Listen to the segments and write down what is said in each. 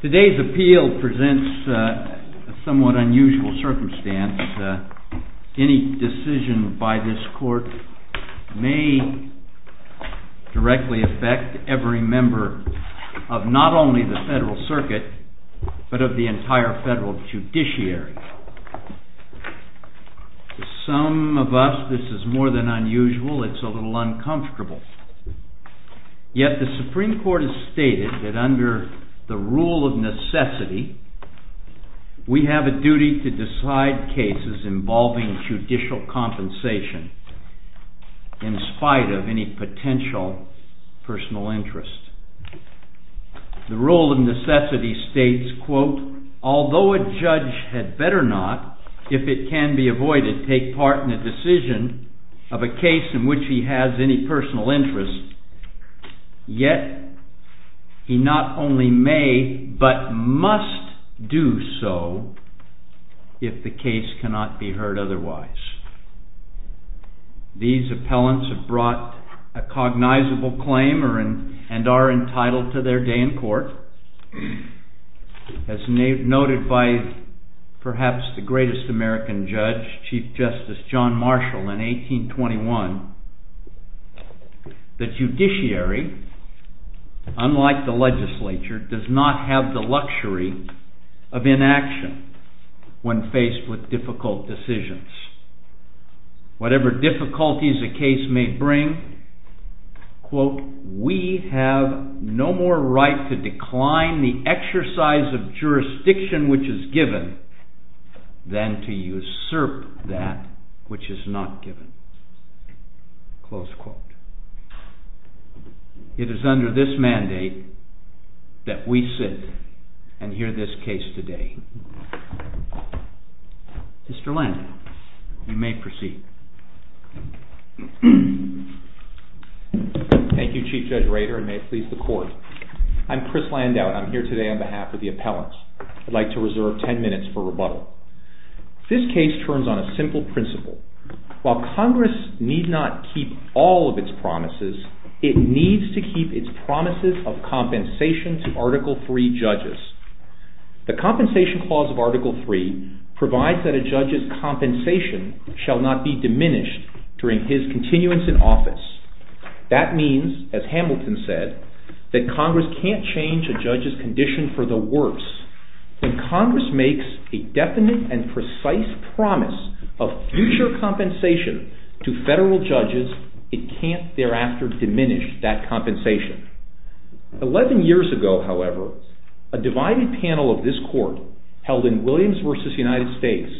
Today's appeal presents a somewhat unusual circumstance. Any decision by this court may directly affect every member of not only the Federal Circuit, but of the entire Federal Judiciary. To some of us this is more than unusual, it's a little uncomfortable. Yet the Supreme Court has stated that under the rule of necessity, we have a duty to decide cases involving judicial compensation in spite of any potential personal interest. The rule of necessity states, quote, although a judge had better not, if it can be avoided, take part in a decision of a case in which he has any personal interest, yet he not only may, but must do so if the case cannot be heard otherwise. These appellants have brought a cognizable claim and are entitled to their day in court, as noted by perhaps the greatest American judge, Chief Justice John Marshall in 1821, that judiciary, unlike the legislature, does not have the luxury of inaction when faced with difficult decisions. Whatever difficulties a case may bring, quote, we have no more right to decline the exercise of jurisdiction which is given than to usurp that which is not given. Close quote. It is under this mandate that we sit and hear this case today. Mr. Landau, you may proceed. Thank you, Chief Judge Rader, and may it please the Court. I'm Chris Landau, and I'm here today on behalf of the appellants. I'd like to reserve ten minutes for rebuttal. This case turns on a simple principle. While Congress need not keep all of its promises, it needs to keep its promises of compensation to Article III judges. The Compensation Clause of Article III provides that a judge's compensation shall not be diminished during his continuance in office. That means, as Hamilton said, that Congress can't change a judge's condition for the worse. When Congress makes a definite and precise promise of future compensation to federal judges, it can't thereafter diminish that compensation. Eleven years ago, however, a divided panel of this Court held in Williams v. United States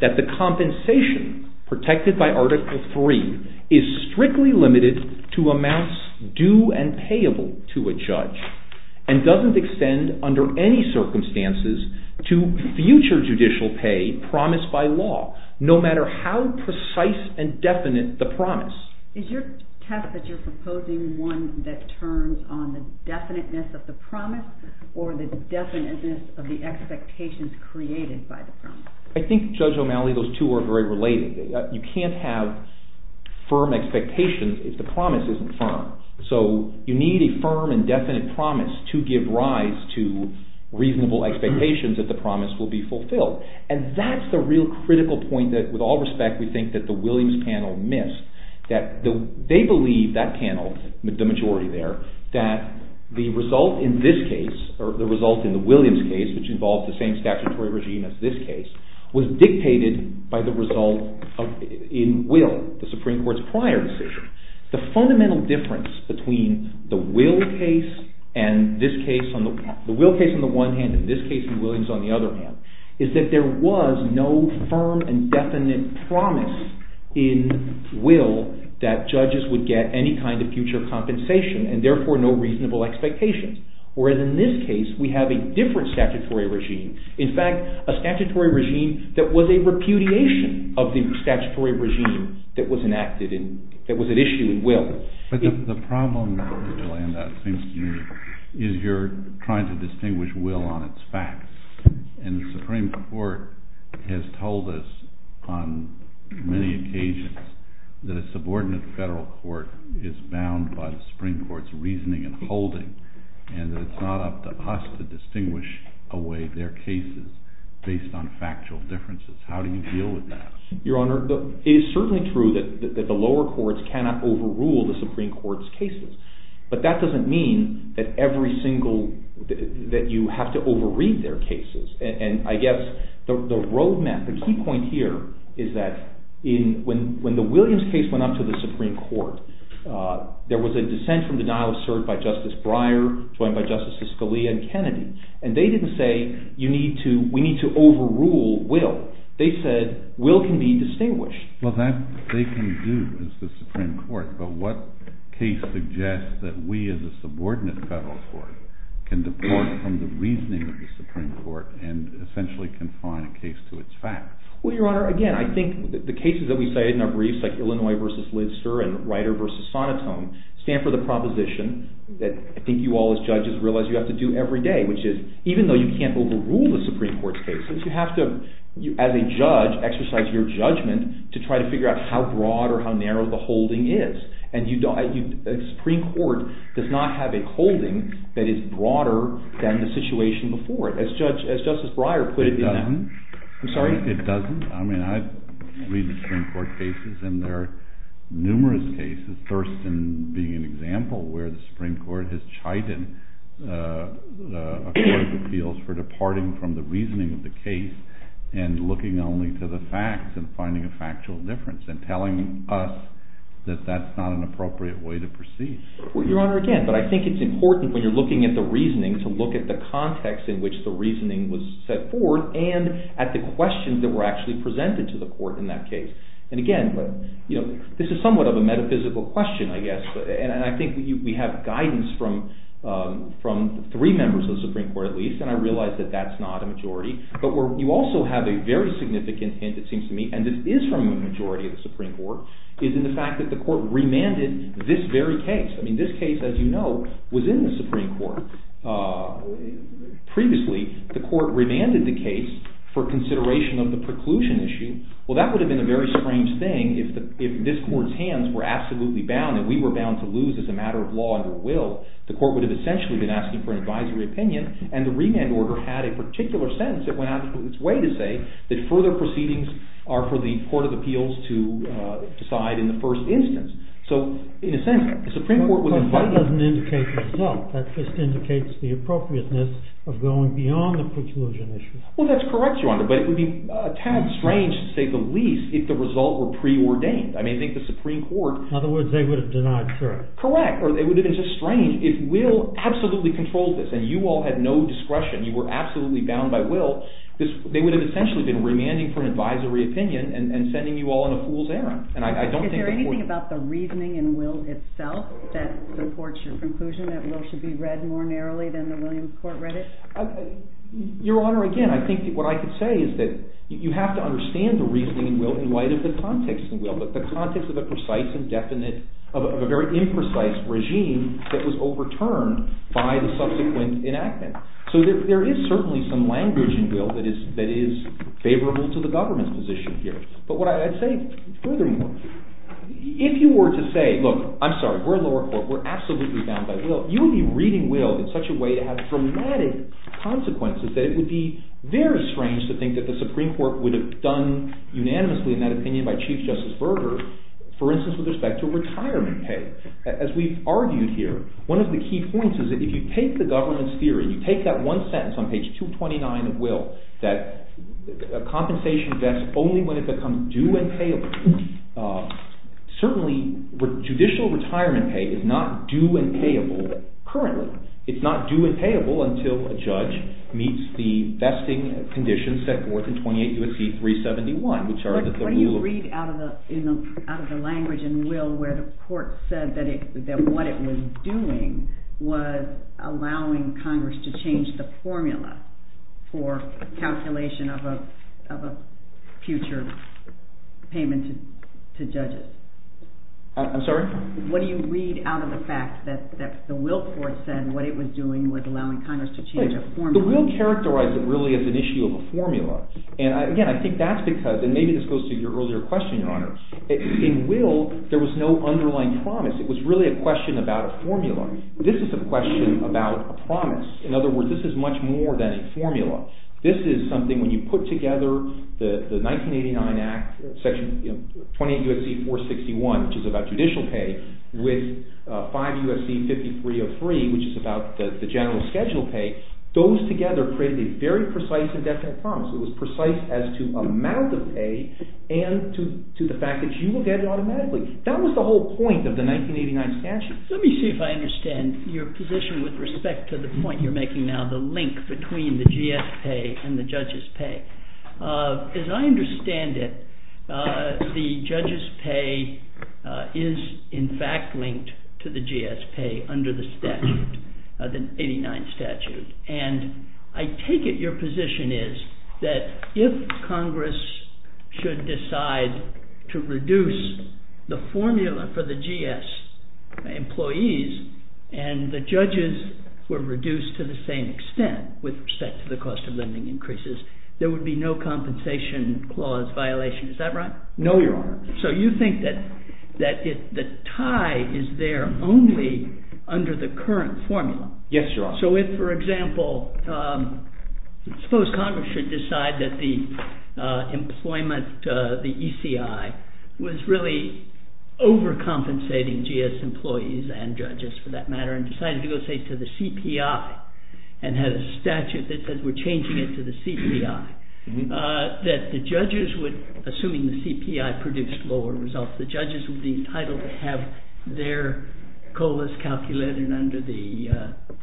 that the compensation protected by Article III is strictly limited to amounts due and payable to a judge, and doesn't extend under any circumstances to future judicial pay promised by law, no matter how precise and definite the promise. Is your test that you're proposing one that turns on the definiteness of the promise, or the definiteness of the expectations created by the promise? I think, Judge O'Malley, those two are very related. You can't have firm expectations if the promise isn't firm. So, you need a firm and definite promise to give rise to reasonable expectations that the promise will be fulfilled. And that's the real critical point that, with all respect, we think that the Williams panel missed. They believe, that panel, the majority there, that the result in this case, or the result in the Williams case, which involved the same statutory regime as this case, was dictated by the result in Will, the Supreme Court's prior decision. The fundamental difference between the Will case on the one hand, and this case in Williams on the other hand, is that there was no firm and definite promise in Will that judges would get any kind of future compensation, and therefore no reasonable expectations. Whereas in this case, we have a different statutory regime. In fact, a statutory regime that was a repudiation of the statutory regime that was enacted, that was at issue in Will. But the problem, Jolanda, seems to me, is you're trying to distinguish Will on its facts. And the Supreme Court has told us on many occasions that a subordinate federal court is bound by the Supreme Court's reasoning and holding, and that it's not up to us to distinguish away their cases based on factual differences. How do you deal with that? Your Honor, it is certainly true that the lower courts cannot overrule the Supreme Court's cases. But that doesn't mean that you have to overread their cases. And I guess the road map, the key point here, is that when the Williams case went up to the Supreme Court, there was a dissent from denial of cert by Justice Breyer, joined by Justices Scalia and Kennedy. And they didn't say, we need to overrule Will. They said, Will can be distinguished. Well, that they can do as the Supreme Court. But what case suggests that we as a subordinate federal court can depart from the reasoning of the Supreme Court and essentially confine a case to its facts? Well, Your Honor, again, I think the cases that we say in our briefs, like Illinois v. Lister and Rider v. Sonotone, stand for the proposition that I think you all as judges realize you have to do every day, which is, even though you can't overrule the Supreme Court's cases, you have to, as a judge, exercise your judgment to try to figure out how broad or how narrow the holding is. And the Supreme Court does not have a holding that is broader than the situation before it, as Justice Breyer put it in that. It doesn't. I'm sorry? That that's not an appropriate way to proceed. Well, Your Honor, again, but I think it's important when you're looking at the reasoning to look at the context in which the reasoning was set forth and at the questions that were actually presented to the court in that case. And again, this is somewhat of a metaphysical question, I guess, and I think we have guidance from three members of the Supreme Court, at least, and I realize that that's not a majority. But you also have a very significant hint, it seems to me, and this is from a majority of the Supreme Court, is in the fact that the court remanded this very case. I mean, this case, as you know, was in the Supreme Court previously. The court remanded the case for consideration of the preclusion issue. Well, that would have been a very strange thing if this court's hands were absolutely bound and we were bound to lose as a matter of law under will. The court would have essentially been asking for an advisory opinion, and the remand order had a particular sentence that went out of its way to say that further proceedings are for the court of appeals to decide in the first instance. So, in a sense, the Supreme Court was inviting— Well, that doesn't indicate the result. That just indicates the appropriateness of going beyond the preclusion issue. Well, that's correct, Your Honor, but it would be a tad strange, to say the least, if the result were preordained. I mean, I think the Supreme Court— In other words, they would have denied truth. Correct, or it would have been just strange if will absolutely controlled this, and you all had no discretion. You were absolutely bound by will. They would have essentially been remanding for an advisory opinion and sending you all on a fool's errand. And I don't think the court— Is there anything about the reasoning in will itself that supports your conclusion that will should be read more narrowly than the Williams court read it? Your Honor, again, I think what I could say is that you have to understand the reasoning in will in light of the context in will, but the context of a precise and definite—of a very imprecise regime that was overturned by the subsequent enactment. So there is certainly some language in will that is favorable to the government's position here. But what I'd say furthermore, if you were to say, look, I'm sorry, we're a lower court. We're absolutely bound by will. You would be reading will in such a way to have dramatic consequences that it would be very strange to think that the Supreme Court would have done unanimously, in that opinion, by Chief Justice Berger, for instance, with respect to retirement pay. As we've argued here, one of the key points is that if you take the government's theory, you take that one sentence on page 229 of will, that compensation vests only when it becomes due and payable. Certainly, judicial retirement pay is not due and payable currently. It's not due and payable until a judge meets the vesting conditions set forth in 28 U.S.C. 371, which are the rule of— I'm sorry? What do you read out of the fact that the will court said what it was doing was allowing Congress to change a formula? The will characterized it really as an issue of a formula. And again, I think that's because—and maybe this goes to your earlier question, Your Honor—in will, there was no underlying promise. It was really a question about a formula. This is a question about a promise. In other words, this is much more than a formula. This is something, when you put together the 1989 Act, 28 U.S.C. 461, which is about judicial pay, with 5 U.S.C. 5303, which is about the general schedule pay, those together create a very precise and definite promise. It was precise as to amount of pay and to the fact that you will get it automatically. That was the whole point of the 1989 statute. Let me see if I understand your position with respect to the point you're making now, the link between the GS pay and the judges' pay. As I understand it, the judges' pay is in fact linked to the GS pay under the statute, the 1989 statute. And I take it your position is that if Congress should decide to reduce the formula for the GS employees and the judges were reduced to the same extent with respect to the cost of lending increases, there would be no compensation clause violation. Is that right? No, Your Honor. So you think that the tie is there only under the current formula? Yes, Your Honor. So if, for example, I suppose Congress should decide that the employment, the ECI, was really overcompensating GS employees and judges, for that matter, and decided to go, say, to the CPI and had a statute that says we're changing it to the CPI, that the judges would, assuming the CPI produced lower results, the judges would be entitled to have their COLAs calculated under the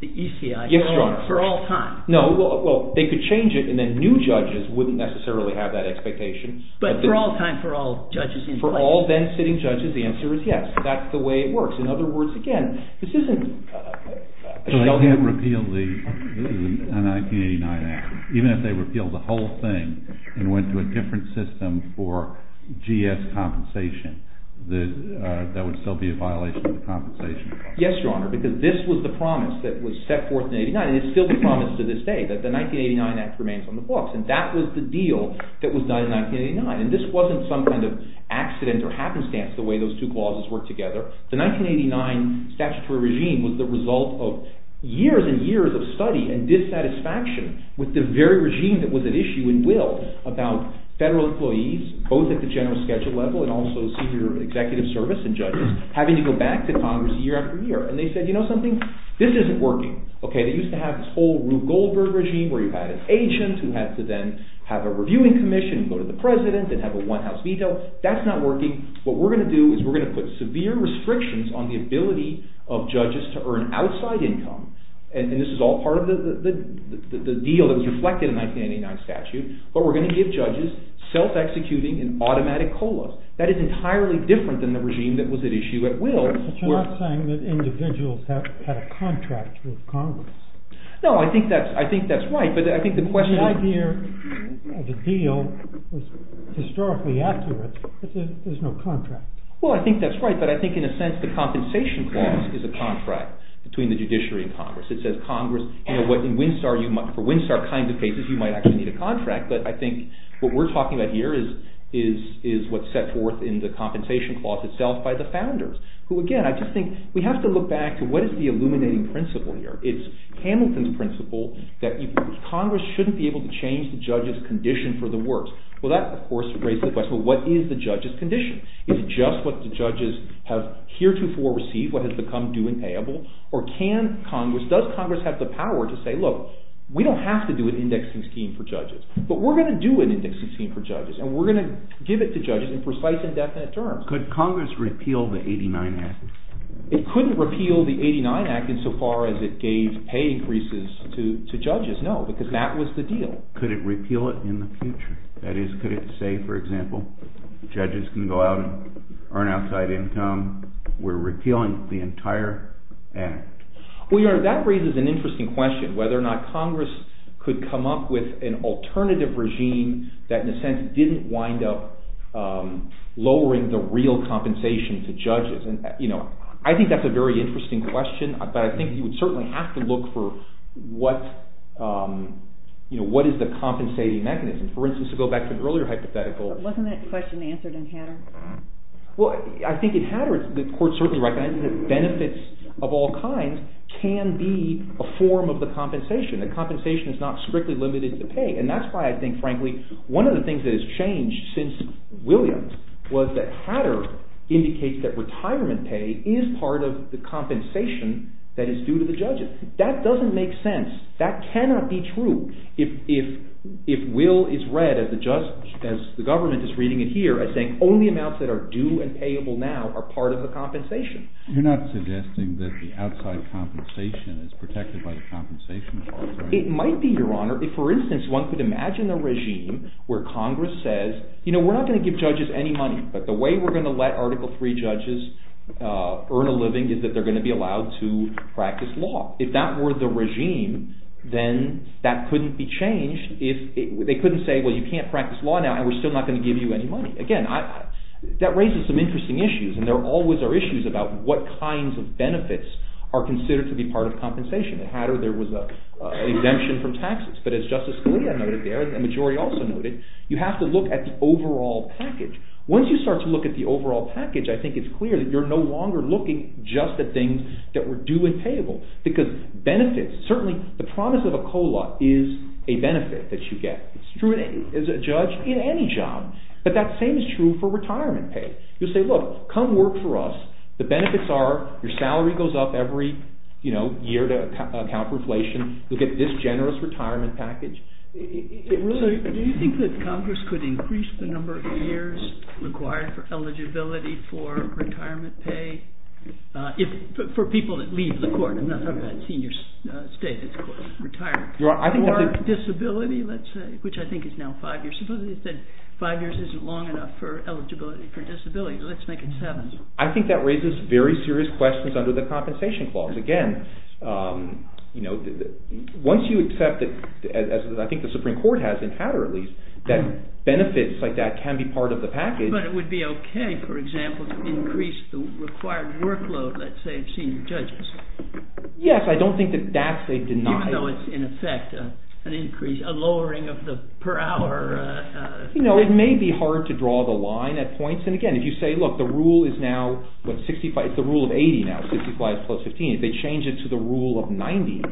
ECI for all time? Yes, Your Honor. No, well, they could change it and then new judges wouldn't necessarily have that expectation. But for all time, for all judges in place? For all then sitting judges, the answer is yes. That's the way it works. In other words, again, this isn't… So they can't repeal the 1989 Act, even if they repeal the whole thing and went to a different system for GS compensation, that would still be a violation of the compensation clause? Yes, Your Honor, because this was the promise that was set forth in 1989, and it's still the promise to this day, that the 1989 Act remains on the books. And that was the deal that was done in 1989. And this wasn't some kind of accident or happenstance, the way those two clauses work together. The 1989 statutory regime was the result of years and years of study and dissatisfaction with the very regime that was at issue in Will, about federal employees, both at the general schedule level and also senior executive service and judges, having to go back to Congress year after year. And they said, you know something, this isn't working. They used to have this whole Rube Goldberg regime, where you had an agent who had to then have a reviewing commission, go to the president and have a one-house veto. That's not working. What we're going to do is we're going to put severe restrictions on the ability of judges to earn outside income. And this is all part of the deal that was reflected in the 1989 statute, but we're going to give judges self-executing and automatic COLAs. That is entirely different than the regime that was at issue at Will. But you're not saying that individuals had a contract with Congress? No, I think that's right, but I think the question… The deal is historically accurate, but there's no contract. Well, I think that's right, but I think in a sense the compensation clause is a contract between the judiciary and Congress. It says Congress, you know, for Winstar kind of cases, you might actually need a contract, but I think what we're talking about here is what's set forth in the compensation clause itself by the founders, who, again, I just think we have to look back to what is the illuminating principle here. It's Hamilton's principle that Congress shouldn't be able to change the judge's condition for the worst. Well, that, of course, raises the question, well, what is the judge's condition? Is it just what the judges have heretofore received, what has become due and payable, or can Congress, does Congress have the power to say, look, we don't have to do an indexing scheme for judges, but we're going to do an indexing scheme for judges, and we're going to give it to judges in precise and definite terms. Could Congress repeal the 89 Act? It couldn't repeal the 89 Act insofar as it gave pay increases to judges, no, because that was the deal. Could it repeal it in the future? That is, could it say, for example, judges can go out and earn outside income, we're repealing the entire Act? Well, Your Honor, that raises an interesting question, whether or not Congress could come up with an alternative regime that, in a sense, didn't wind up lowering the real compensation to judges. I think that's a very interesting question, but I think you would certainly have to look for what is the compensating mechanism. For instance, to go back to an earlier hypothetical. Wasn't that question answered in Hatterr? Well, I think in Hatterr, the Court certainly recognizes that benefits of all kinds can be a form of the compensation. The compensation is not strictly limited to pay, and that's why I think, frankly, one of the things that has changed since Williams was that Hatterr indicates that retirement pay is part of the compensation that is due to the judges. That doesn't make sense. That cannot be true. If Will is read, as the government is reading it here, as saying only amounts that are due and payable now are part of the compensation. You're not suggesting that the outside compensation is protected by the compensation clause, right? It might be, Your Honor. If, for instance, one could imagine a regime where Congress says, you know, we're not going to give judges any money, but the way we're going to let Article III judges earn a living is that they're going to be allowed to practice law. If that were the regime, then that couldn't be changed. They couldn't say, well, you can't practice law now, and we're still not going to give you any money. Again, that raises some interesting issues, and there always are issues about what kinds of benefits are considered to be part of compensation. At Hatterr, there was an exemption from taxes, but as Justice Scalia noted there, and the majority also noted, you have to look at the overall package. Once you start to look at the overall package, I think it's clear that you're no longer looking just at things that were due and payable, because benefits, certainly the promise of a COLA is a benefit that you get. It's true as a judge in any job, but that same is true for retirement pay. You'll say, look, come work for us. The benefits are your salary goes up every year to account for inflation. You'll get this generous retirement package. So do you think that Congress could increase the number of years required for eligibility for retirement pay for people that leave the court? I'm not talking about senior state, it's retirement. Or disability, let's say, which I think is now five years. Suppose they said five years isn't long enough for eligibility for disability. Let's make it seven. I think that raises very serious questions under the compensation clause. Again, once you accept it, as I think the Supreme Court has in Hatterr at least, that benefits like that can be part of the package. But it would be okay, for example, to increase the required workload, let's say, of senior judges. Yes, I don't think that that's a denial. Even though it's, in effect, an increase, a lowering of the per hour. You know, it may be hard to draw the line at points. And again, if you say, look, the rule is now, it's the rule of 80 now, 65 plus 15. If they change it to the rule of 90,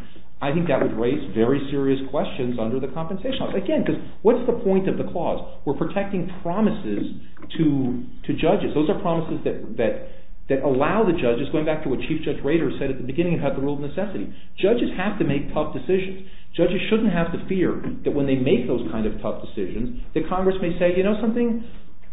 I think that would raise very serious questions under the compensation clause. Again, because what's the point of the clause? We're protecting promises to judges. Those are promises that allow the judges, going back to what Chief Judge Rader said at the beginning about the rule of necessity. Judges have to make tough decisions. Judges shouldn't have to fear that when they make those kind of tough decisions, that Congress may say, you know something,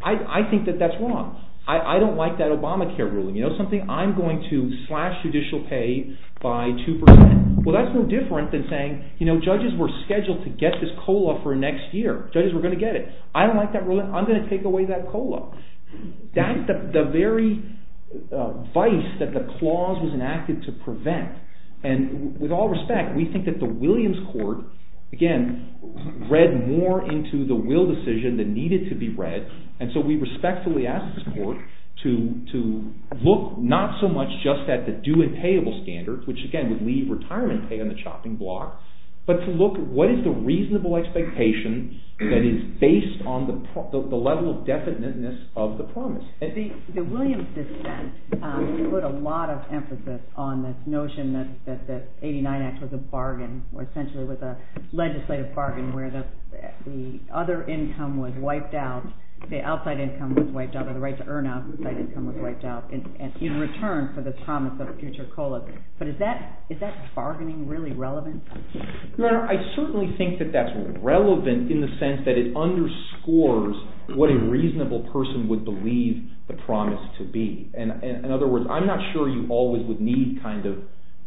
I think that that's wrong. I don't like that Obamacare ruling. You know something, I'm going to slash judicial pay by 2%. Well, that's no different than saying, you know, judges were scheduled to get this COLA for next year. Judges were going to get it. I don't like that ruling. I'm going to take away that COLA. That's the very vice that the clause was enacted to prevent. And with all respect, we think that the Williams Court, again, read more into the will decision than needed to be read. And so we respectfully ask this court to look not so much just at the due and payable standard, which again would leave retirement pay on the chopping block, but to look at what is the reasonable expectation that is based on the level of definiteness of the promise. The Williams dissent put a lot of emphasis on this notion that the 89 Act was a bargain, or essentially was a legislative bargain where the other income was wiped out, the outside income was wiped out, or the right to earn outside income was wiped out in return for this promise of future COLA. But is that bargaining really relevant? Your Honor, I certainly think that that's relevant in the sense that it underscores what a reasonable person would believe the promise to be. In other words, I'm not sure you always would need kind of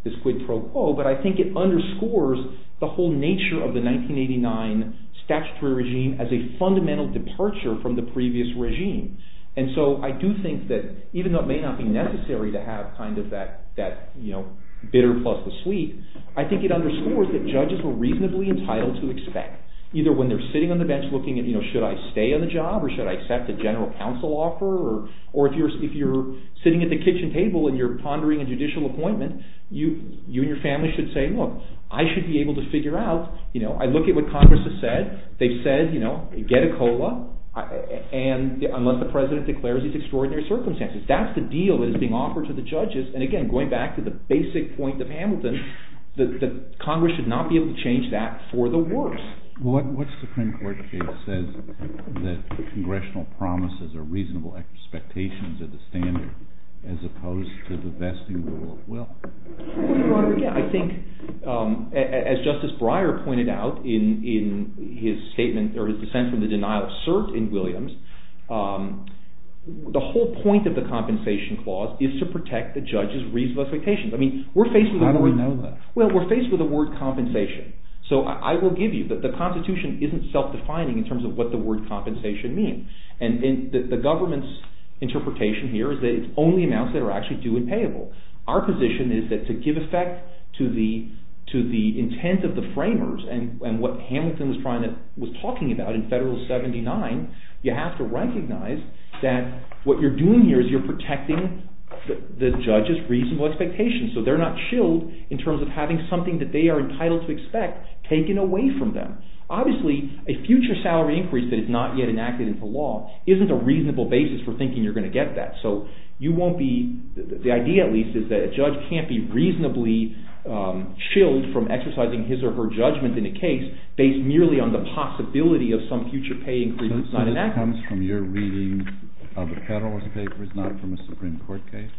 this quid pro quo, but I think it underscores the whole nature of the 1989 statutory regime as a fundamental departure from the previous regime. And so I do think that even though it may not be necessary to have kind of that bitter plus the sweet, I think it underscores that judges were reasonably entitled to expect. Either when they're sitting on the bench looking at, you know, should I stay on the job, or should I accept a general counsel offer, or if you're sitting at the kitchen table and you're pondering a judicial appointment, you and your family should say, look, I should be able to figure out, you know, I look at what Congress has said, they've said, you know, get a COLA, unless the President declares these extraordinary circumstances. That's the deal that is being offered to the judges. And again, going back to the basic point of Hamilton, that Congress should not be able to change that for the worse. What Supreme Court case says that congressional promises are reasonable expectations of the standard as opposed to the vesting rule of will? I think, as Justice Breyer pointed out in his statement, or his dissent from the denial of cert in Williams, the whole point of the compensation clause is to protect the judge's reasonable expectations. I mean, we're faced with a word... How do we know that? Well, we're faced with the word compensation. So I will give you that the Constitution isn't self-defining in terms of what the word compensation means. And the government's interpretation here is that it's only amounts that are actually due and payable. Our position is that to give effect to the intent of the framers, and what Hamilton was talking about in Federalist 79, you have to recognize that what you're doing here is you're protecting the judge's reasonable expectations. So they're not chilled in terms of having something that they are entitled to expect taken away from them. Obviously, a future salary increase that is not yet enacted into law isn't a reasonable basis for thinking you're going to get that. So you won't be... the idea, at least, is that a judge can't be reasonably chilled from exercising his or her judgment in a case based merely on the possibility of some future pay increase that's not enacted. So this comes from your reading of the Federalist Papers, not from a Supreme Court case?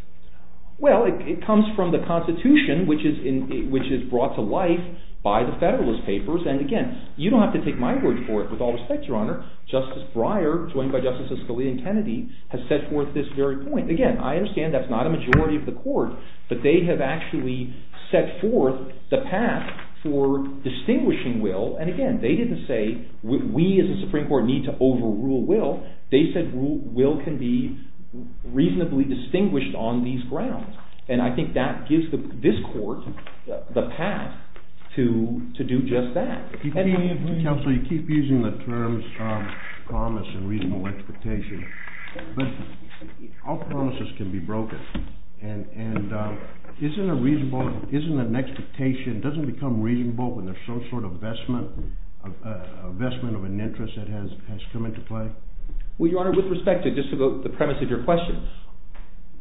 Well, it comes from the Constitution, which is brought to life by the Federalist Papers. And again, you don't have to take my word for it. With all respect, Your Honor, Justice Breyer, joined by Justices Scalia and Kennedy, has set forth this very point. Again, I understand that's not a majority of the Court, but they have actually set forth the path for distinguishing will. And again, they didn't say, we as a Supreme Court need to overrule will. They said will can be reasonably distinguished on these grounds. And I think that gives this Court the path to do just that. Counsel, you keep using the terms promise and reasonable expectation. But all promises can be broken. And isn't a reasonable – isn't an expectation – doesn't it become reasonable when there's some sort of vestment of an interest that has come into play? Well, Your Honor, with respect to just the premise of your question,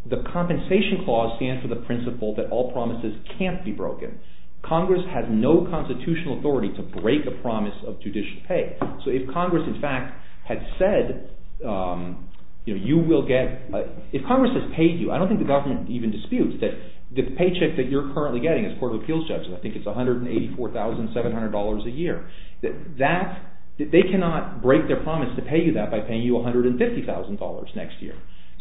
the Compensation Clause stands for the principle that all promises can't be broken. Congress has no constitutional authority to break a promise of judicial pay. So if Congress, in fact, had said, you know, you will get – if Congress has paid you, I don't think the government even disputes that the paycheck that you're currently getting as a court of appeals judge, and I think it's $184,700 a year, that they cannot break their promise to pay you that by paying you $150,000 next year.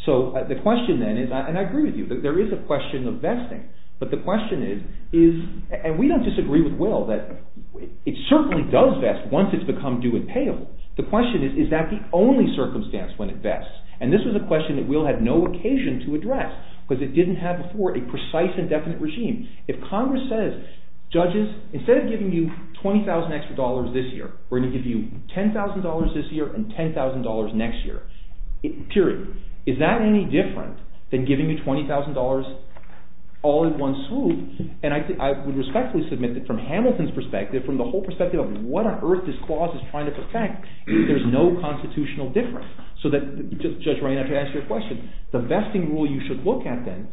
So the question then is – and I agree with you. There is a question of vesting. But the question is – and we don't disagree with Will that it certainly does vest once it's become due and payable. The question is, is that the only circumstance when it vests? And this was a question that Will had no occasion to address because it didn't have before a precise and definite regime. If Congress says, judges, instead of giving you $20,000 extra dollars this year, we're going to give you $10,000 this year and $10,000 next year. Period. Is that any different than giving you $20,000 all in one swoop? And I would respectfully submit that from Hamilton's perspective, from the whole perspective of what on earth this clause is trying to protect, there's no constitutional difference. So that – Judge Ryan, I have to ask you a question. The vesting rule you should look at then,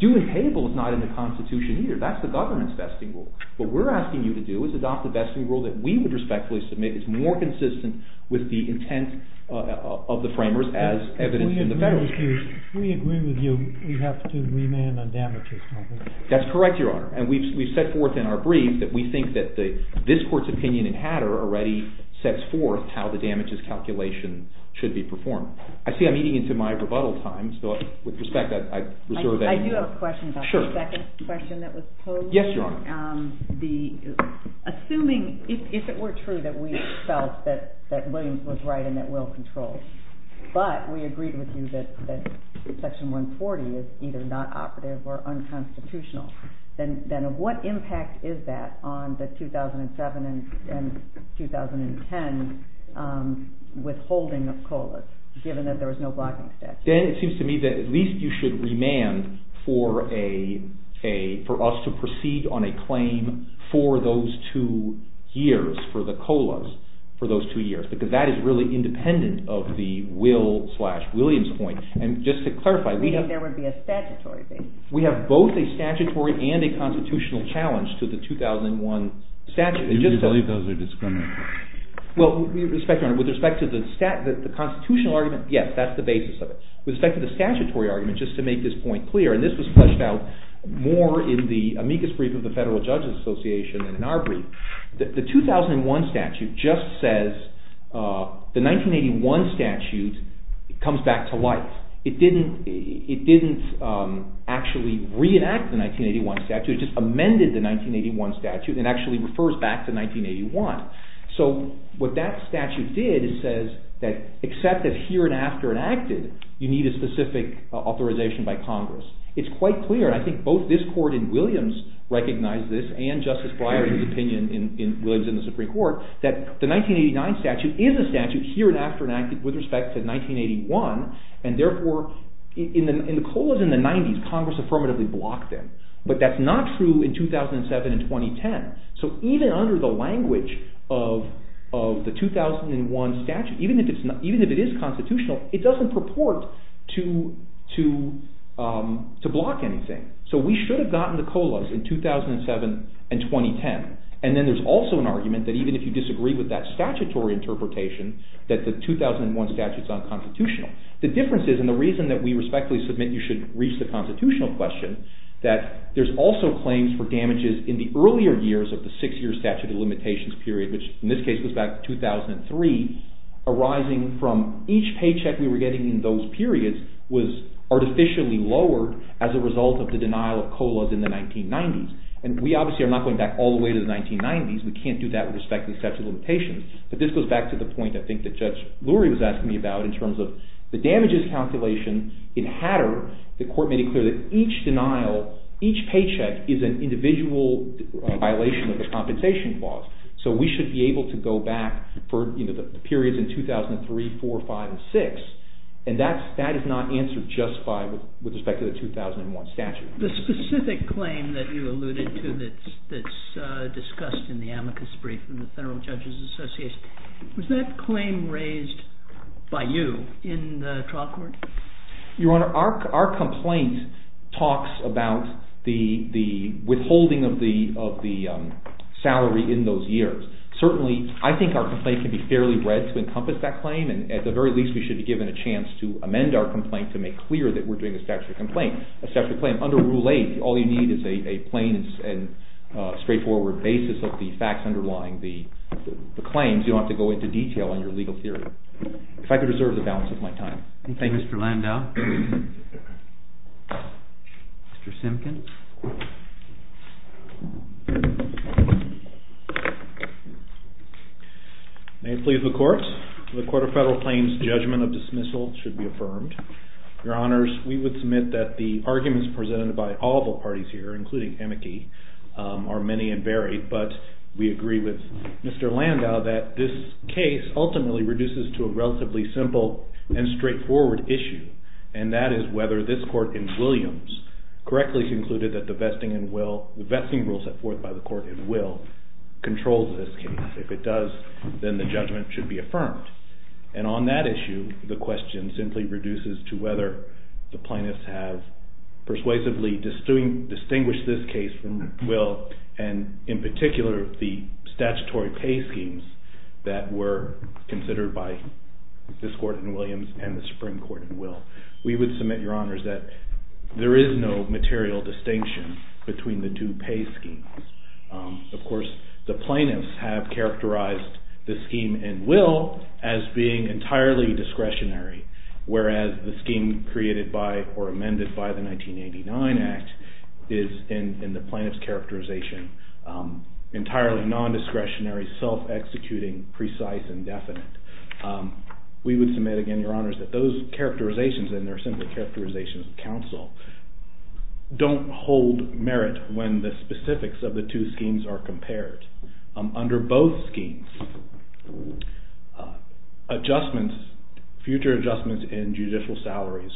due and payable is not in the Constitution either. That's the government's vesting rule. What we're asking you to do is adopt the vesting rule that we would respectfully submit. It's more consistent with the intent of the framers as evidenced in the Federalist Clause. If we agree with you, we have to remand on damages, don't we? That's correct, Your Honor. And we've set forth in our brief that we think that this Court's opinion in Hatter already sets forth how the damages calculation should be performed. I see I'm eating into my rebuttal time, so with respect, I reserve that. I do have a question about the second question that was posed. Yes, Your Honor. Assuming, if it were true that we felt that Williams was right and that Will controlled, but we agreed with you that Section 140 is either not operative or unconstitutional, then what impact is that on the 2007 and 2010 withholding of COLAs, given that there was no blocking statute? Then it seems to me that at least you should remand for us to proceed on a claim for those two years, for the COLAs, for those two years. Because that is really independent of the Will slash Williams point. And just to clarify, we have both a statutory and a constitutional challenge to the 2001 statute. Do you believe those are discriminatory? Well, with respect to the constitutional argument, yes, that's the basis of it. With respect to the statutory argument, just to make this point clear, and this was fleshed out more in the amicus brief of the Federal Judges Association than in our brief, the 2001 statute just says the 1981 statute comes back to life. It didn't actually reenact the 1981 statute. It just amended the 1981 statute and actually refers back to 1981. So what that statute did is says that except that here and after it acted, you need a specific authorization by Congress. It's quite clear, and I think both this court in Williams recognized this and Justice Breyer's opinion in Williams and the Supreme Court, that the 1989 statute is a statute here and after it acted with respect to 1981, and therefore in the COLAs in the 90s, Congress affirmatively blocked them. But that's not true in 2007 and 2010. So even under the language of the 2001 statute, even if it is constitutional, it doesn't purport to block anything. So we should have gotten the COLAs in 2007 and 2010. And then there's also an argument that even if you disagree with that statutory interpretation, that the 2001 statute is unconstitutional. The difference is, and the reason that we respectfully submit you should reach the constitutional question, that there's also claims for damages in the earlier years of the six-year statute of limitations period, which in this case goes back to 2003, arising from each paycheck we were getting in those periods was artificially lowered as a result of the denial of COLAs in the 1990s. And we obviously are not going back all the way to the 1990s. We can't do that with respect to the statute of limitations. But this goes back to the point, I think, that Judge Lurie was asking me about in terms of the damages calculation in Hatter that the court made it clear that each denial, each paycheck is an individual violation of the compensation clause. So we should be able to go back for the periods in 2003, 2004, 2005, and 2006. And that is not answered just with respect to the 2001 statute. The specific claim that you alluded to that's discussed in the amicus brief in the Federal Judges Association, was that claim raised by you in the trial court? Your Honor, our complaint talks about the withholding of the salary in those years. Certainly, I think our complaint can be fairly read to encompass that claim, and at the very least we should be given a chance to amend our complaint to make clear that we're doing a statutory complaint. A statutory claim under Rule 8, all you need is a plain and straightforward basis of the facts underlying the claims. You don't have to go into detail on your legal theory. If I could reserve the balance of my time. Thank you, Mr. Landau. Mr. Simpkins. May it please the Court. The Court of Federal Claims judgment of dismissal should be affirmed. Your Honors, we would submit that the arguments presented by all the parties here, including Amici, are many and varied, but we agree with Mr. Landau that this case ultimately reduces to a relatively simple and straightforward issue, and that is whether this Court in Williams correctly concluded that the vesting rule set forth by the Court in Will controls this case. If it does, then the judgment should be affirmed. And on that issue, the question simply reduces to whether the plaintiffs have persuasively distinguished this case from Will and, in particular, the statutory pay schemes that were considered by this Court in Williams and the Supreme Court in Will. We would submit, Your Honors, that there is no material distinction between the two pay schemes. Of course, the plaintiffs have characterized the scheme in Will as being entirely discretionary, whereas the scheme created by or amended by the 1989 Act is, in the plaintiff's characterization, entirely nondiscretionary, self-executing, precise, and definite. We would submit, again, Your Honors, that those characterizations, and they're simply characterizations of counsel, don't hold merit when the specifics of the two schemes are compared. Under both schemes, adjustments, future adjustments in judicial salaries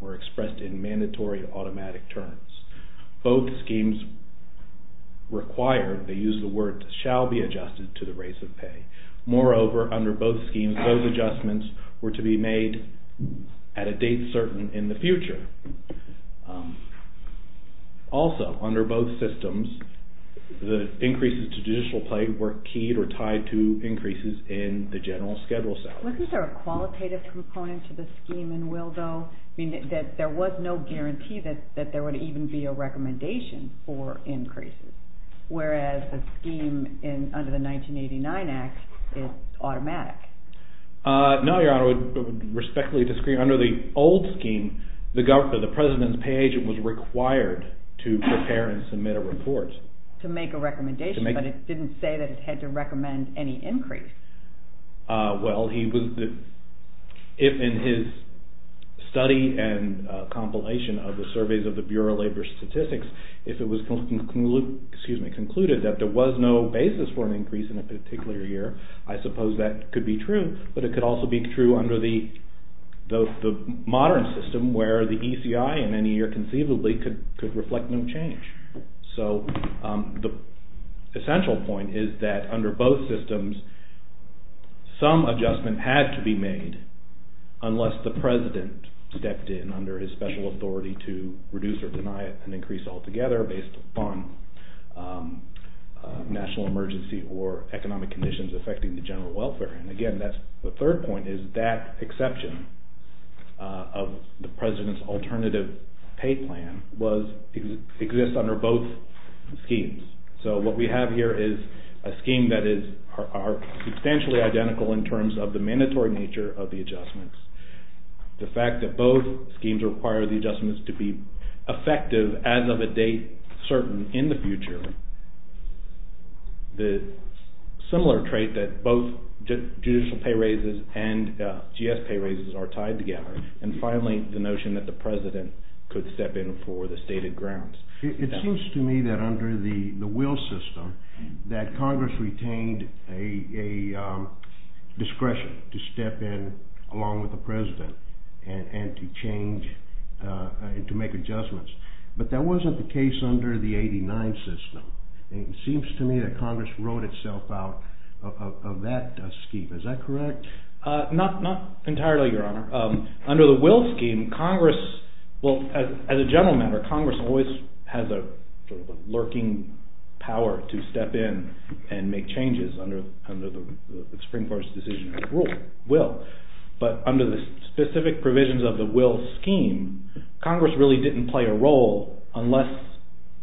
were expressed in mandatory automatic terms. Both schemes require, they use the word, shall be adjusted to the rates of pay. Moreover, under both schemes, those adjustments were to be made at a date certain in the future. Also, under both systems, the increases to judicial pay were keyed or tied to increases in the general schedule salaries. Wasn't there a qualitative component to the scheme in Will, though? I mean, there was no guarantee that there would even be a recommendation for increases, whereas a scheme under the 1989 Act is automatic. No, Your Honor, I would respectfully disagree. Under the old scheme, the president's pay agent was required to prepare and submit a report. To make a recommendation, but it didn't say that it had to recommend any increase. Well, if in his study and compilation of the surveys of the Bureau of Labor Statistics, if it was concluded that there was no basis for an increase in a particular year, I suppose that could be true, but it could also be true under the modern system where the ECI in any year conceivably could reflect no change. So, the essential point is that under both systems, some adjustment had to be made unless the president stepped in under his special authority to reduce or deny an increase altogether based on national emergency or economic conditions affecting the general welfare. And again, the third point is that exception of the president's alternative pay plan exists under both schemes. So, what we have here is a scheme that is substantially identical in terms of the mandatory nature of the adjustments. The fact that both schemes require the adjustments to be effective as of a date certain in the future, the similar trait that both judicial pay raises and GS pay raises are tied together, and finally, the notion that the president could step in for the stated grounds. It seems to me that under the Will system that Congress retained a discretion to step in along with the president and to change and to make adjustments, but that wasn't the case under the 89 system. It seems to me that Congress wrote itself out of that scheme. Is that correct? Not entirely, your honor. Under the Will scheme, Congress, well as a general matter, Congress always has a lurking power to step in and make changes under the Supreme Court's decision of Will. But under the specific provisions of the Will scheme, Congress really didn't play a role unless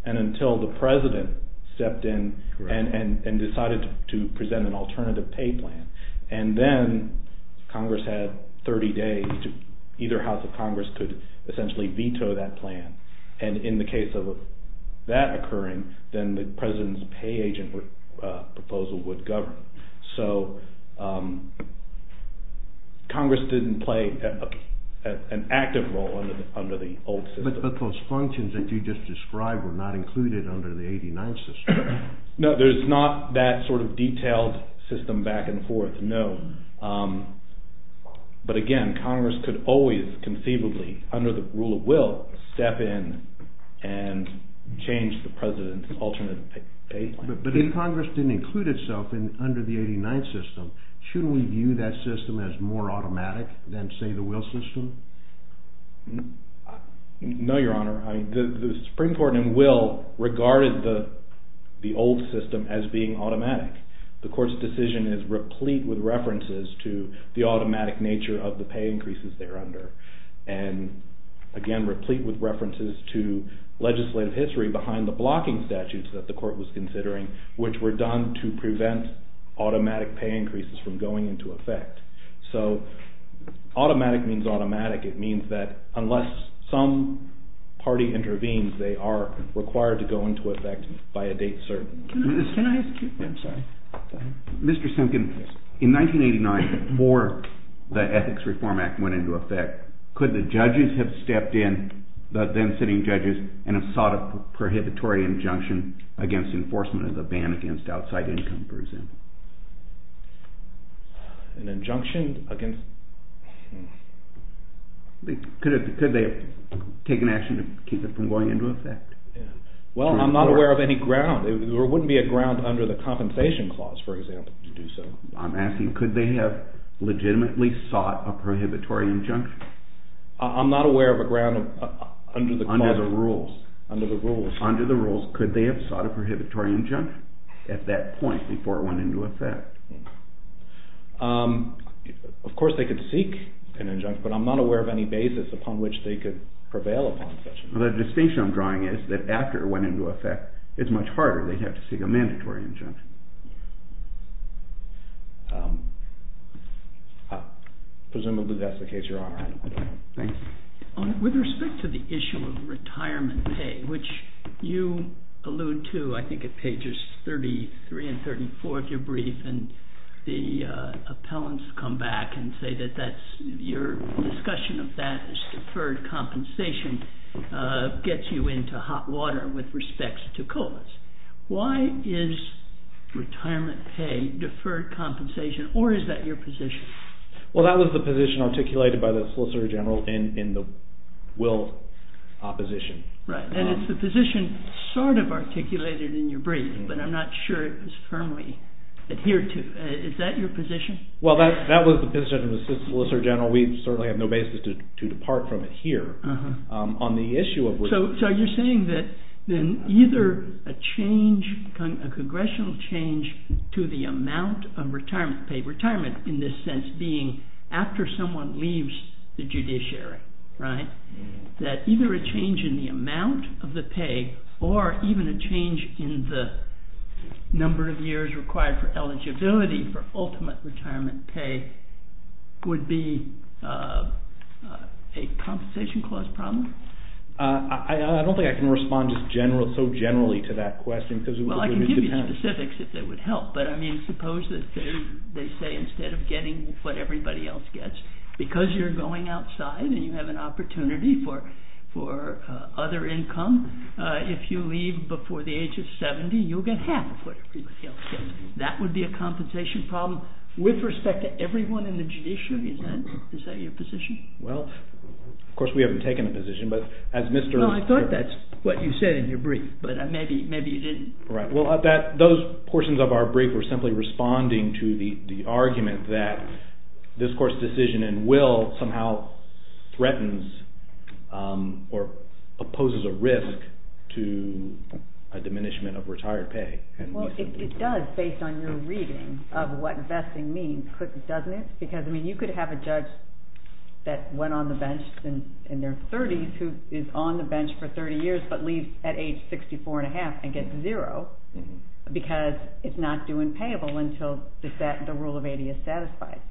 and until the president stepped in and decided to present an alternative pay plan. And then Congress had 30 days, either house of Congress could essentially veto that plan. And in the case of that occurring, then the president's pay agent proposal would govern. So Congress didn't play an active role under the old system. But those functions that you just described were not included under the 89 system. No, there's not that sort of detailed system back and forth, no. But again, Congress could always conceivably, under the rule of Will, step in and change the president's alternate pay plan. But if Congress didn't include itself under the 89 system, shouldn't we view that system as more automatic than, say, the Will system? No, Your Honor. The Supreme Court in Will regarded the old system as being automatic. The Court's decision is replete with references to the automatic nature of the pay increases there under. And again, replete with references to legislative history behind the blocking statutes that the Court was considering, which were done to prevent automatic pay increases from going into effect. So automatic means automatic. It means that unless some party intervenes, they are required to go into effect by a date certain. Mr. Simkin, in 1989, before the Ethics Reform Act went into effect, could the judges have stepped in, the then sitting judges, and have sought a prohibitory injunction against enforcement of the ban against outside income, for example? An injunction against... Could they have taken action to keep it from going into effect? Well, I'm not aware of any ground. There wouldn't be a ground under the Compensation Clause, for example, to do so. I'm asking, could they have legitimately sought a prohibitory injunction? I'm not aware of a ground under the clause. Under the rules. Under the rules, could they have sought a prohibitory injunction at that point before it went into effect? Of course they could seek an injunction, but I'm not aware of any basis upon which they could prevail upon such an injunction. The distinction I'm drawing is that after it went into effect, it's much harder. They'd have to seek a mandatory injunction. Presumably that's the case, Your Honor. Thank you. With respect to the issue of retirement pay, which you allude to, I think, at pages 33 and 34 of your brief, and the appellants come back and say that your discussion of that as deferred compensation gets you into hot water with respect to COLAs. Why is retirement pay deferred compensation, or is that your position? Well, that was the position articulated by the Solicitor General in the willed opposition. Right, and it's the position sort of articulated in your brief, but I'm not sure it was firmly adhered to. Is that your position? Well, that was the position of the Solicitor General. We certainly have no basis to depart from it here. So you're saying that either a congressional change to the amount of retirement pay, retirement in this sense being after someone leaves the judiciary, that either a change in the amount of the pay or even a change in the number of years required for eligibility for ultimate retirement pay would be a compensation clause problem? I don't think I can respond so generally to that question. Well, I can give you specifics if that would help, but I mean, suppose that they say instead of getting what everybody else gets, because you're going outside and you have an opportunity for other income, if you leave before the age of 70, you'll get half of what everybody else gets. That would be a compensation problem with respect to everyone in the judiciary? Is that your position? Well, of course we haven't taken a position, but as Mr. No, I thought that's what you said in your brief, but maybe you didn't. Right, well, those portions of our brief were simply responding to the argument that this Court's decision in will somehow threatens or opposes a risk to a diminishment of retired pay. Well, it does, based on your reading of what vesting means, doesn't it? Because, I mean, you could have a judge that went on the bench in their 30s who is on the bench for 30 years but leaves at age 64 and a half and gets zero because it's not due and payable until the rule of 80 is satisfied.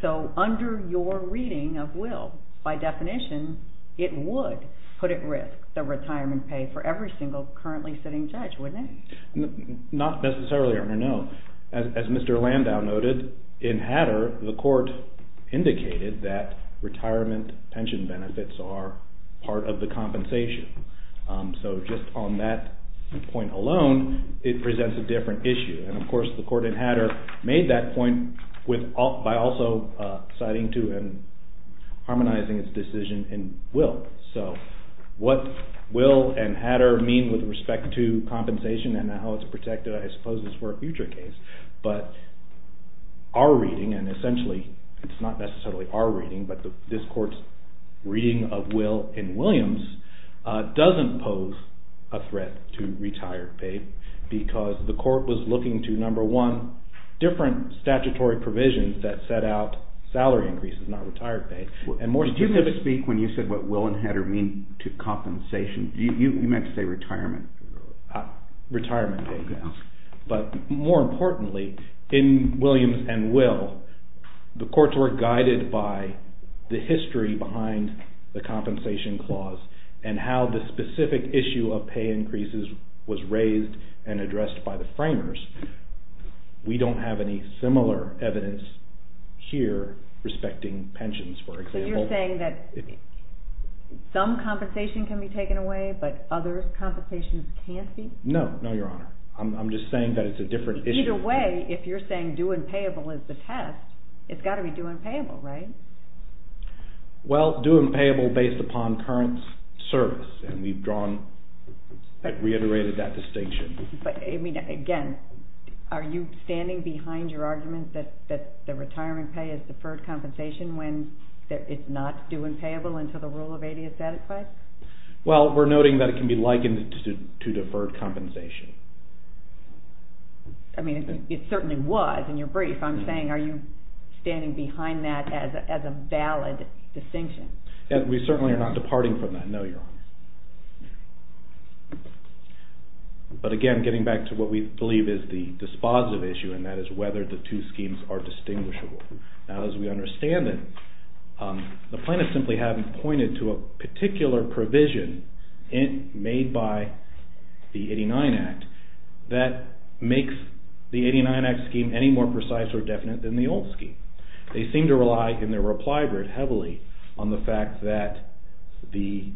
So, under your reading of will, by definition, it would put at risk the retirement pay for every single currently sitting judge, wouldn't it? Not necessarily, Your Honor, no. As Mr. Landau noted, in Hatter, the Court indicated that retirement pension benefits are part of the compensation. So, just on that point alone, it presents a different issue. And, of course, the Court in Hatter made that point by also citing to and harmonizing its decision in will. So, what will and Hatter mean with respect to compensation and how it's protected, I suppose, is for a future case. But, our reading, and essentially, it's not necessarily our reading, but this Court's reading of will in Williams doesn't pose a threat to retired pay because the Court was looking to, number one, different statutory provisions that set out salary increases, not retired pay. Did you speak when you said what will and Hatter mean to compensation? You meant to say retirement. Retirement pay, yes. But, more importantly, in Williams and will, the Courts were guided by the history behind the compensation clause and how the specific issue of pay increases was raised and addressed by the framers. We don't have any similar evidence here respecting pensions, for example. So, you're saying that some compensation can be taken away, but other compensations can't be? No, no, Your Honor. I'm just saying that it's a different issue. Either way, if you're saying due and payable is the test, it's got to be due and payable, right? Well, due and payable based upon current service, and we've drawn, reiterated that distinction. But, I mean, again, are you standing behind your argument that the retirement pay is deferred compensation when it's not due and payable until the rule of 80 is satisfied? Well, we're noting that it can be likened to deferred compensation. I mean, it certainly was in your brief. I'm saying are you standing behind that as a valid distinction? We certainly are not departing from that, no, Your Honor. But, again, getting back to what we believe is the dispositive issue, and that is whether the two schemes are distinguishable. Now, as we understand it, the plaintiffs simply haven't pointed to a particular provision made by the 89 Act that makes the 89 Act scheme any more precise or definite than the old scheme. They seem to rely, in their reply, very heavily on the fact that the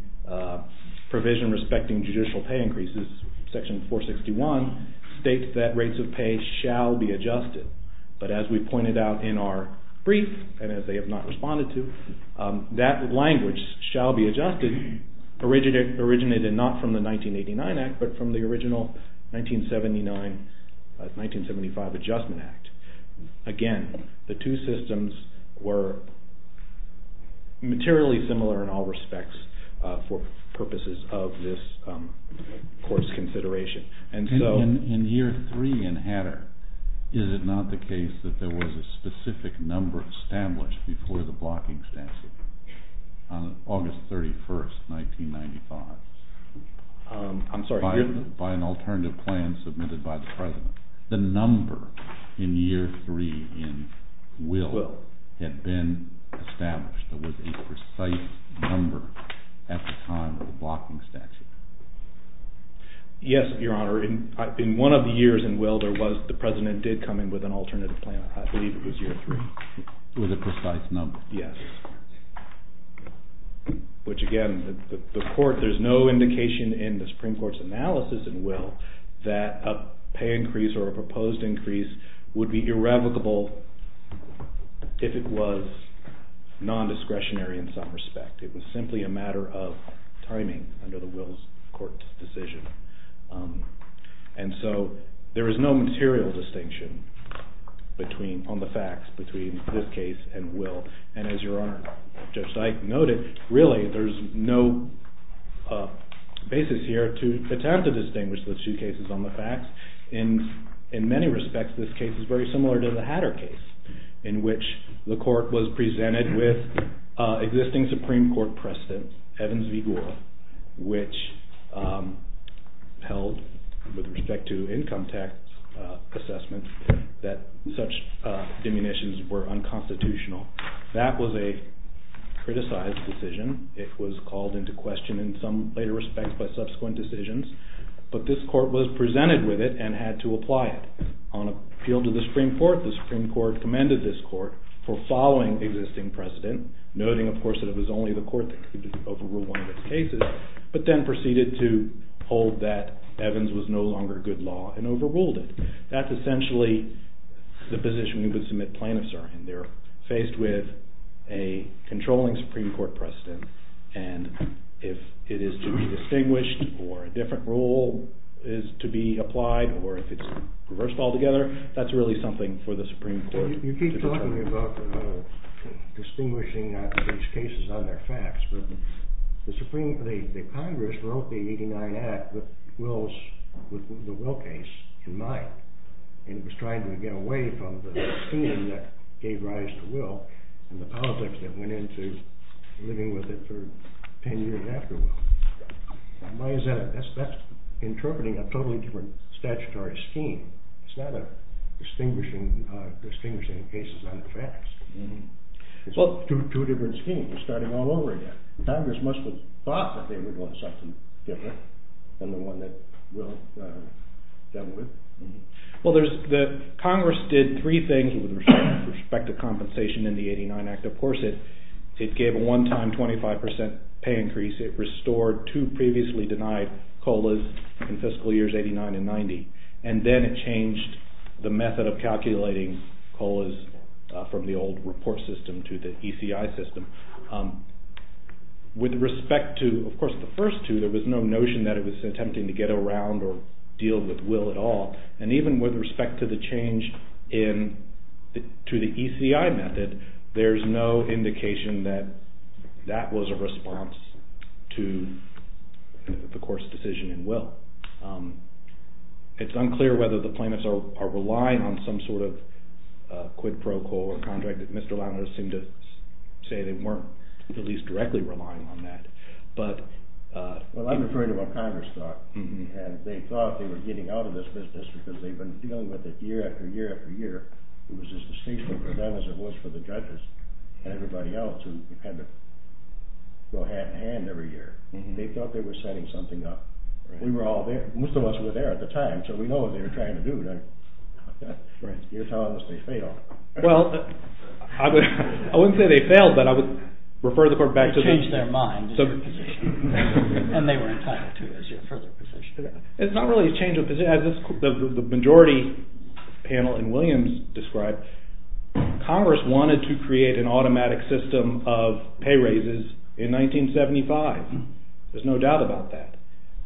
provision respecting judicial pay increases, Section 461, states that rates of pay shall be adjusted. But, as we pointed out in our brief, and as they have not responded to, that language, shall be adjusted, originated not from the 1989 Act, but from the original 1979-1975 Adjustment Act. Again, the two systems were materially similar in all respects for purposes of this course consideration. In Year 3 in Hatter, is it not the case that there was a specific number established before the blocking statute on August 31, 1995, by an alternative plan submitted by the President? The number in Year 3 in Will had been established. There was a precise number at the time of the blocking statute. Yes, Your Honor. In one of the years in Will, the President did come in with an alternative plan. I believe it was Year 3. It was a precise number. Yes. Which, again, there is no indication in the Supreme Court's analysis in Will that a pay increase or a proposed increase would be irrevocable if it was non-discretionary in some respect. It was simply a matter of timing under the Will's Court's decision. And so, there is no material distinction on the facts between this case and Will. And as Your Honor, Judge Sykes noted, really there is no basis here to attempt to distinguish the two cases on the facts. In many respects, this case is very similar to the Hatter case in which the court was presented with existing Supreme Court precedent, Evans v. Gould, which held, with respect to income tax assessment, that such diminutions were unconstitutional. That was a criticized decision. It was called into question in some later respects by subsequent decisions. But this court was presented with it and had to apply it. On appeal to the Supreme Court, the Supreme Court commended this court for following existing precedent, noting, of course, that it was only the court that could overrule one of its cases, but then proceeded to hold that Evans was no longer good law and overruled it. That's essentially the position we would submit plaintiffs are in. They're faced with a controlling Supreme Court precedent, and if it is to be distinguished or a different rule is to be applied, or if it's reversed altogether, that's really something for the Supreme Court to determine. You were talking about distinguishing these cases on their facts, but the Congress wrote the 89 Act with the Will case in mind, and it was trying to get away from the opinion that gave rise to Will and the politics that went into living with it for ten years after Will. Why is that? That's interpreting a totally different statutory scheme. It's not distinguishing cases on the facts. It's two different schemes starting all over again. Congress must have thought that they would want something different than the one that Will dealt with. Well, Congress did three things with respect to compensation in the 89 Act. Of course, it gave a one-time 25% pay increase. It restored two previously denied COLAs in fiscal years 89 and 90, and then it changed the method of calculating COLAs from the old report system to the ECI system. With respect to, of course, the first two, there was no notion that it was attempting to get around or deal with Will at all, and even with respect to the change to the ECI method, there's no indication that that was a response to the court's decision in Will. It's unclear whether the plaintiffs are relying on some sort of quid pro quo or contract. Mr. Lanois seemed to say they weren't at least directly relying on that. Well, I'm referring to what Congress thought, and they thought they were getting out of this business because they'd been dealing with it year after year after year. It was as distasteful for them as it was for the judges, and everybody else who had to go hand in hand every year. They thought they were setting something up. We were all there. Most of us were there at the time, so we know what they were trying to do. You're telling us they failed. Well, I wouldn't say they failed, but I would refer the court back to the— You changed their mind as your position, and they were entitled to it as your further position. It's not really a change of position. As the majority panel in Williams described, Congress wanted to create an automatic system of pay raises in 1975. There's no doubt about that.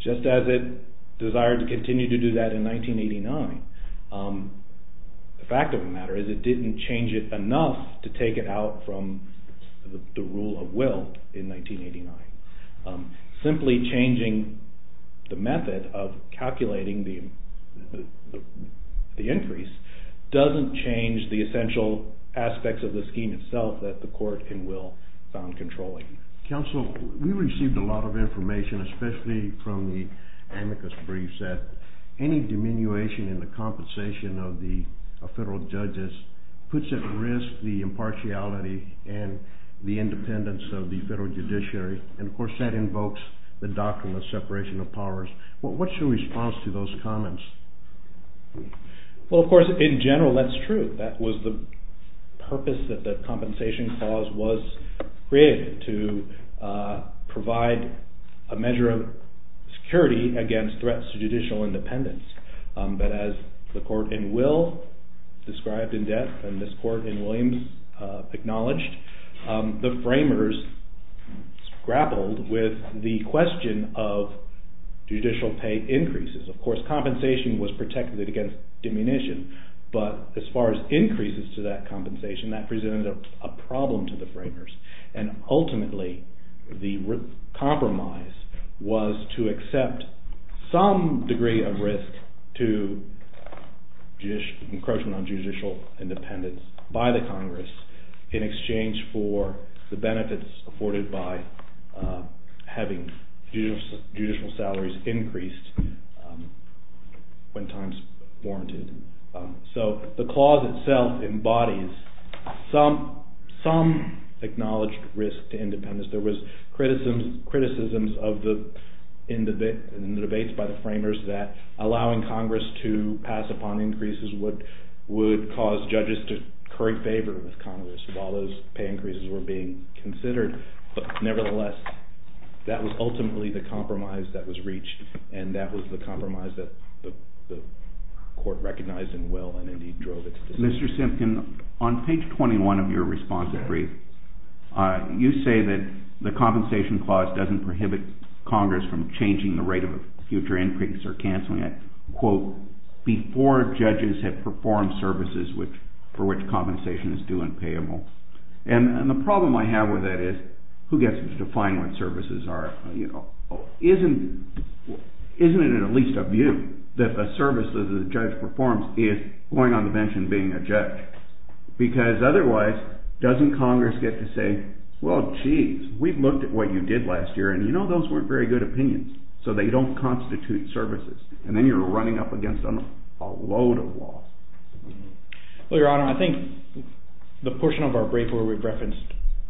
Just as it desired to continue to do that in 1989, the fact of the matter is it didn't change it enough to take it out from the rule of will in 1989. Simply changing the method of calculating the increase doesn't change the essential aspects of the scheme itself that the court in will found controlling. Counsel, we received a lot of information, especially from the amicus briefs, that any diminution in the compensation of the federal judges puts at risk the impartiality and the independence of the federal judiciary. Of course, that invokes the doctrine of separation of powers. What's your response to those comments? Well, of course, in general, that's true. That was the purpose that the compensation clause was created, to provide a measure of security against threats to judicial independence. But as the court in will described in depth, and this court in Williams acknowledged, the framers grappled with the question of judicial pay increases. Of course, compensation was protected against diminution, but as far as increases to that compensation, that presented a problem to the framers. And ultimately, the compromise was to accept some degree of risk to encroachment on judicial independence by the Congress, in exchange for the benefits afforded by having judicial salaries increased when times warranted. So the clause itself embodies some acknowledged risk to independence. There was criticisms in the debates by the framers that allowing Congress to pass upon increases would cause judges to curry favor with Congress while those pay increases were being considered. But nevertheless, that was ultimately the compromise that was reached, and that was the compromise that the court recognized in will and indeed drove it to decision. Mr. Simpkin, on page 21 of your response brief, you say that the compensation clause doesn't prohibit Congress from changing the rate of future increase or canceling it, quote, before judges have performed services for which compensation is due and payable. And the problem I have with that is, who gets to define what services are? Isn't it at least a view that the services a judge performs is going on the bench and being a judge? Because otherwise, doesn't Congress get to say, well, geez, we've looked at what you did last year, and you know those weren't very good opinions, so they don't constitute services. And then you're running up against a load of law. Well, Your Honor, I think the portion of our brief where we've referenced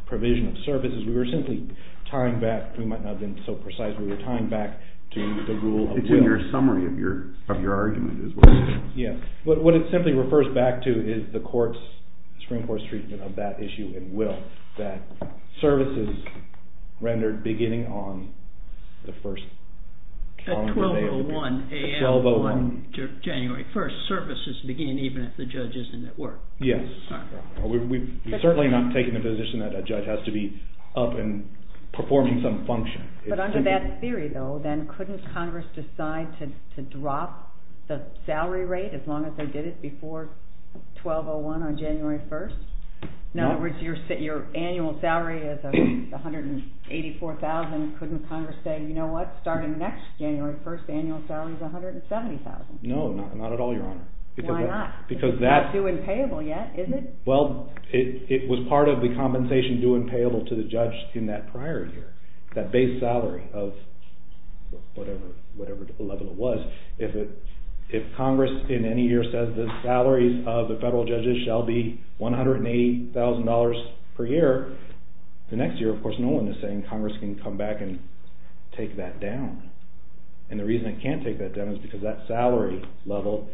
provision of services, we were simply tying back, we might not have been so precise, we were tying back to the rule of will. It's in your summary of your argument as well. Yes. But what it simply refers back to is the Supreme Court's treatment of that issue in will, that services rendered beginning on the first calendar day of the period. At 12.01 a.m. on January 1st, services begin even if the judge isn't at work. Yes. We've certainly not taken the position that a judge has to be up and performing some function. But under that theory, though, then couldn't Congress decide to drop the salary rate as long as they did it before 12.01 on January 1st? No. In other words, your annual salary is $184,000. Couldn't Congress say, you know what, starting next January 1st, the annual salary is $170,000? No, not at all, Your Honor. Why not? It's not due and payable yet, is it? Well, it was part of the compensation due and payable to the judge in that prior year, that base salary of whatever level it was. If Congress in any year says the salaries of the federal judges shall be $180,000 per year, the next year, of course, no one is saying Congress can come back and take that down. And the reason it can't take that down is because that salary level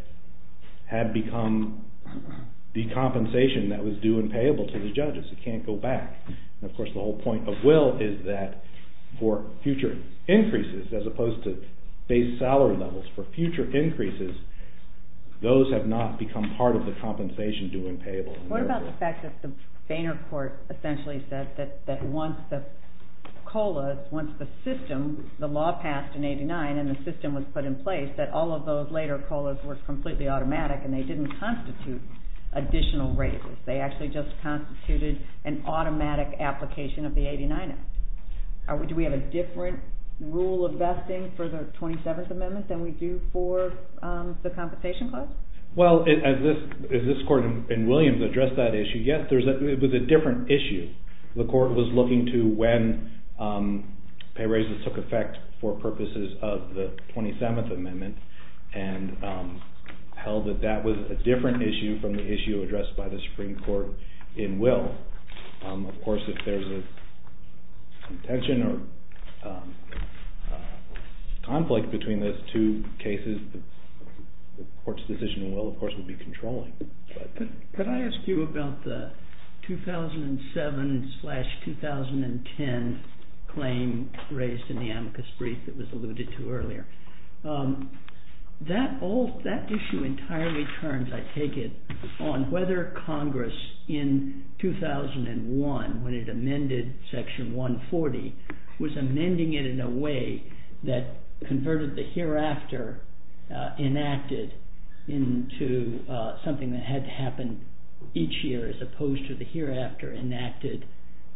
had become the compensation that was due and payable to the judges. It can't go back. And, of course, the whole point of Will is that for future increases, as opposed to base salary levels, for future increases, those have not become part of the compensation due and payable. What about the fact that the Boehner Court essentially said that once the COLA, once the system, the law passed in 89 and the system was put in place, that all of those later COLAs were completely automatic and they didn't constitute additional raises. They actually just constituted an automatic application of the 89 Act. Do we have a different rule of vesting for the 27th Amendment than we do for the compensation clause? Well, as this Court in Williams addressed that issue, yes, it was a different issue. The Court was looking to when pay raises took effect for purposes of the 27th Amendment and held that that was a different issue from the issue addressed by the Supreme Court in Will. Of course, if there's a contention or conflict between those two cases, the Court's decision in Will, of course, would be controlling. Could I ask you about the 2007-2010 claim raised in the amicus brief that was alluded to earlier? That issue entirely turns, I take it, on whether Congress in 2001, when it amended Section 140, was amending it in a way that converted the hereafter enacted into something that had to happen each year as opposed to the hereafter enacted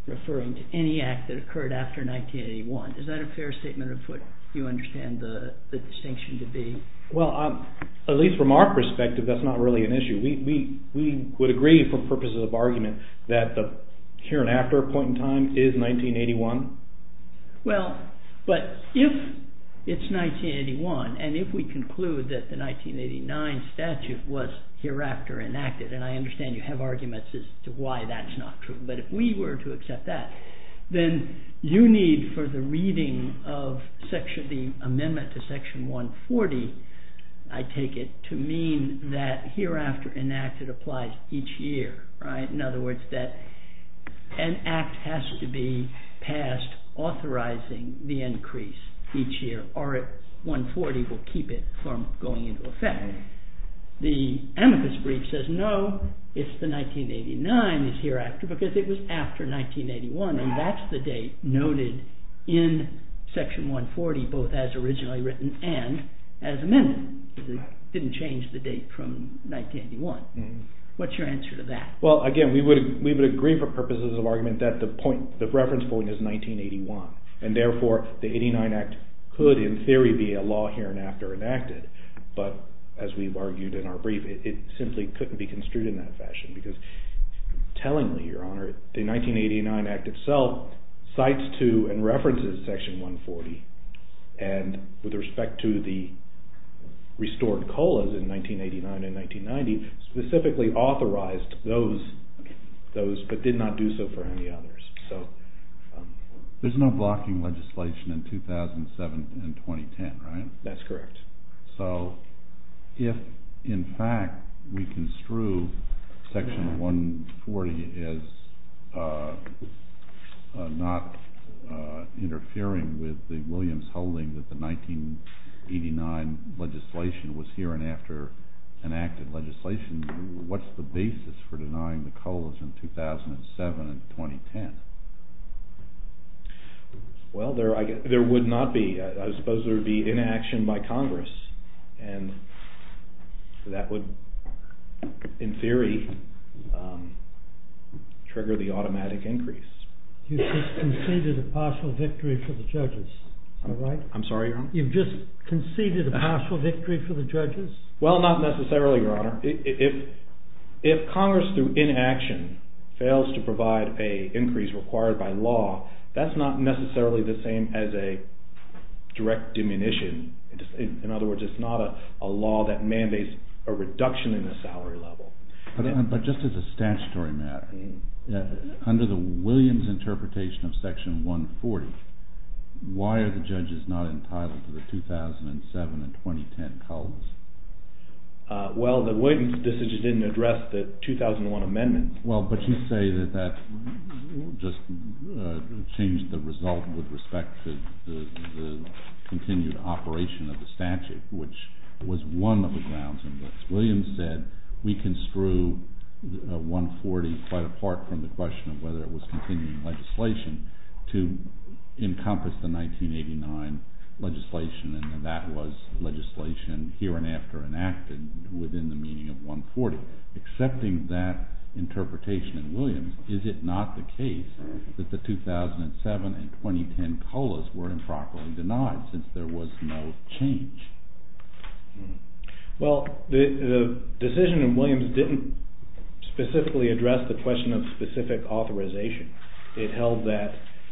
referring to any act that occurred after 1981. Is that a fair statement of what you understand the distinction to be? Well, at least from our perspective, that's not really an issue. We would agree for purposes of argument that the hereafter point in time is 1981. Well, but if it's 1981 and if we conclude that the 1989 statute was hereafter enacted, and I understand you have arguments as to why that's not true, but if we were to accept that, then you need for the reading of the amendment to Section 140, I take it, to mean that hereafter enacted applies each year, right? In other words, that an act has to be passed authorizing the increase each year, or 140 will keep it from going into effect. The amicus brief says no, it's the 1989 that's hereafter because it was after 1981, and that's the date noted in Section 140 both as originally written and as amended. It didn't change the date from 1981. What's your answer to that? Well, again, we would agree for purposes of argument that the reference point is 1981, and therefore the 89 Act could, in theory, be a law hereafter enacted, but as we've argued in our brief, it simply couldn't be construed in that fashion because tellingly, Your Honor, the 1989 Act itself cites to and references Section 140, and with respect to the restored COLAs in 1989 and 1990, specifically authorized those but did not do so for any others. There's no blocking legislation in 2007 and 2010, right? That's correct. So if, in fact, we construe Section 140 as not interfering with the Williams holding that the 1989 legislation was here and after enacted legislation, what's the basis for denying the COLAs in 2007 and 2010? Well, there would not be. I suppose there would be inaction by Congress, and that would, in theory, trigger the automatic increase. You've just conceded a partial victory for the judges, am I right? I'm sorry, Your Honor? You've just conceded a partial victory for the judges? Well, not necessarily, Your Honor. If Congress, through inaction, fails to provide an increase required by law, that's not necessarily the same as a direct diminution. In other words, it's not a law that mandates a reduction in the salary level. But just as a statutory matter, under the Williams interpretation of Section 140, why are the judges not entitled to the 2007 and 2010 COLAs? Well, the Williams decision didn't address the 2001 amendment. Well, but you say that that just changed the result with respect to the continued operation of the statute, which was one of the grounds in this. Williams said, we construe 140 quite apart from the question of whether it was continuing legislation to encompass the 1989 legislation, and that was legislation here and after enacted within the meaning of 140. Accepting that interpretation in Williams, is it not the case that the 2007 and 2010 COLAs were improperly denied since there was no change? Well, the decision in Williams didn't specifically address the question of specific authorization. It held that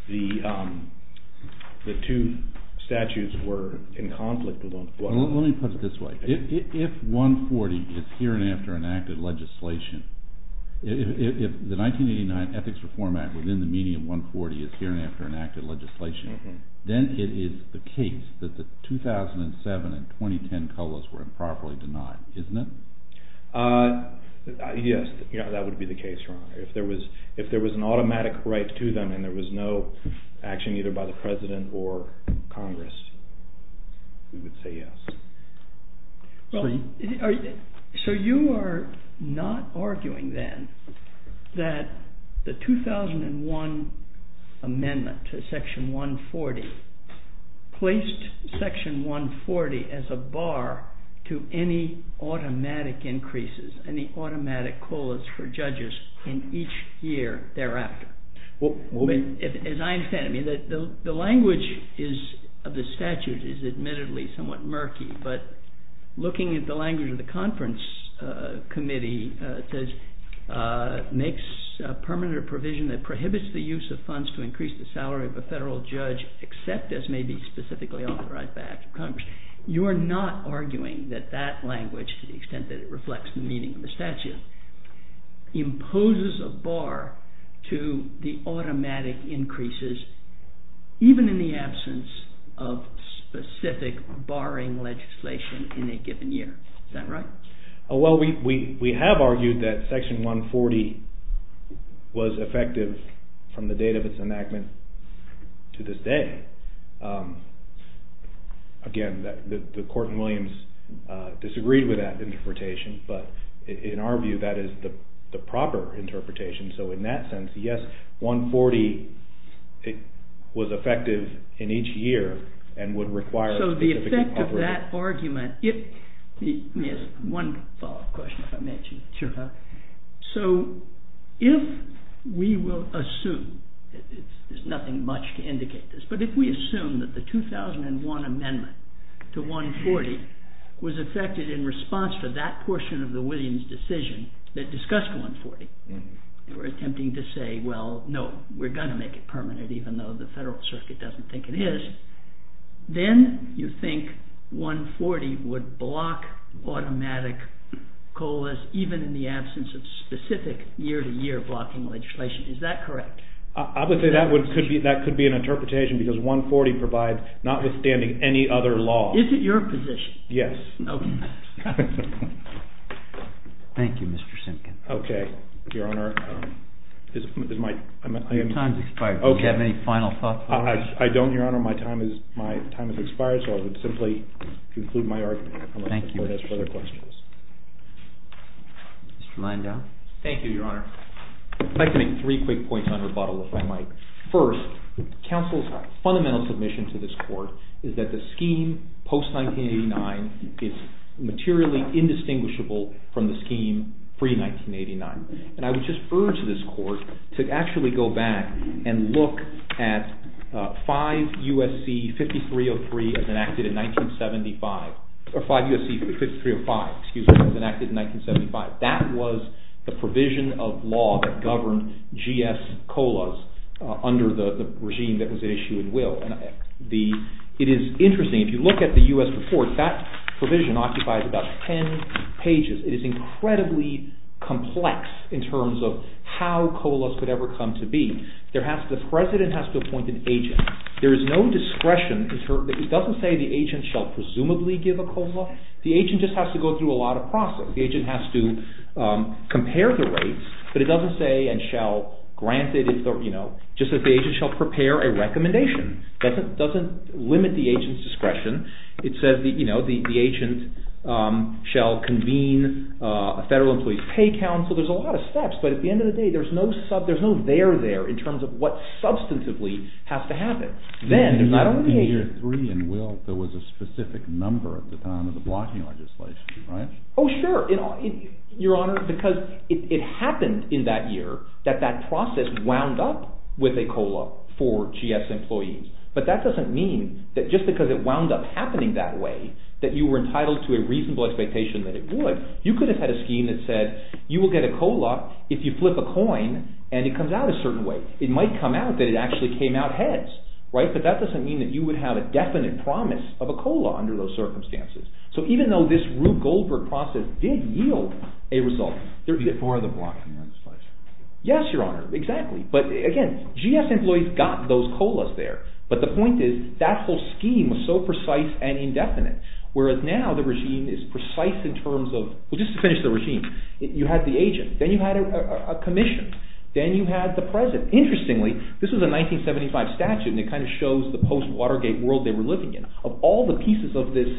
the two statutes were in conflict with one another. Let me put it this way. If 140 is here and after enacted legislation, if the 1989 Ethics Reform Act within the meaning of 140 is here and after enacted legislation, then it is the case that the 2007 and 2010 COLAs were improperly denied, isn't it? Yes, that would be the case, your honor. If there was an automatic right to them and there was no action either by the President or Congress, we would say yes. So you are not arguing then that the 2001 amendment to section 140 placed section 140 as a bar to any automatic increases, any automatic COLAs for judges in each year thereafter. As I understand it, the language of the statute is admittedly somewhat murky, but looking at the language of the conference committee, it says it makes a permanent provision that prohibits the use of funds to increase the salary of a federal judge, except as may be specifically authorized by the act of Congress. You are not arguing that that language, to the extent that it reflects the meaning of the statute, imposes a bar to the automatic increases even in the absence of specific barring legislation in a given year. Is that right? Well, we have argued that section 140 was effective from the date of its enactment to this day. Again, the court in Williams disagreed with that interpretation, but in our view that is the proper interpretation. So in that sense, yes, 140 was effective in each year and would require... So the effect of that argument... Yes, one follow-up question if I may, Chief. Sure. So if we will assume, there is nothing much to indicate this, but if we assume that the 2001 amendment to 140 was effective in response to that portion of the Williams decision that discussed 140 for attempting to say, well, no, we are going to make it permanent, even though the federal circuit doesn't think it is, then you think 140 would block automatic COLAs even in the absence of specific year-to-year blocking legislation. Is that correct? I would say that could be an interpretation because 140 provides, notwithstanding any other law... Is it your position? Yes. Okay. Thank you, Mr. Simpkin. Okay, Your Honor. Your time has expired. Do you have any final thoughts? I don't, Your Honor. My time has expired, so I would simply conclude my argument. Thank you. I would like to ask further questions. Mr. Landau. Thank you, Your Honor. I would like to make three quick points on rebuttal, if I might. First, counsel's fundamental submission to this court is that the scheme post-1989 is materially indistinguishable from the scheme pre-1989. And I would just urge this court to actually go back and look at 5 U.S.C. 5303 as enacted in 1975, or 5 U.S.C. 5305, excuse me, as enacted in 1975. That was the provision of law that governed GS COLAS under the regime that was at issue in Will. It is interesting, if you look at the U.S. report, that provision occupies about ten pages. It is incredibly complex in terms of how COLAS could ever come to be. The president has to appoint an agent. There is no discretion. It doesn't say the agent shall presumably give a COLA. The agent just has to go through a lot of process. The agent has to compare the rates, but it doesn't say and shall grant it. It just says the agent shall prepare a recommendation. It doesn't limit the agent's discretion. It says the agent shall convene a federal employee's pay council. There are a lot of steps, but at the end of the day, there is no there there in terms of what substantively has to happen. Then, not only the agent… In year three in Will, there was a specific number at the time of the blocking legislation, right? Oh, sure, Your Honor, because it happened in that year that that process wound up with a COLA for GS employees. But that doesn't mean that just because it wound up happening that way that you were entitled to a reasonable expectation that it would. You could have had a scheme that said you will get a COLA if you flip a coin and it comes out a certain way. It might come out that it actually came out heads, right? But that doesn't mean that you would have a definite promise of a COLA under those circumstances. So even though this Rube Goldberg process did yield a result… Before the blocking legislation. Yes, Your Honor, exactly. But again, GS employees got those COLAs there, but the point is that whole scheme was so precise and indefinite, whereas now the regime is precise in terms of… Well, just to finish the regime, you had the agent, then you had a commission, then you had the president. Interestingly, this was a 1975 statute, and it kind of shows the post-Watergate world they were living in. Of all the pieces of this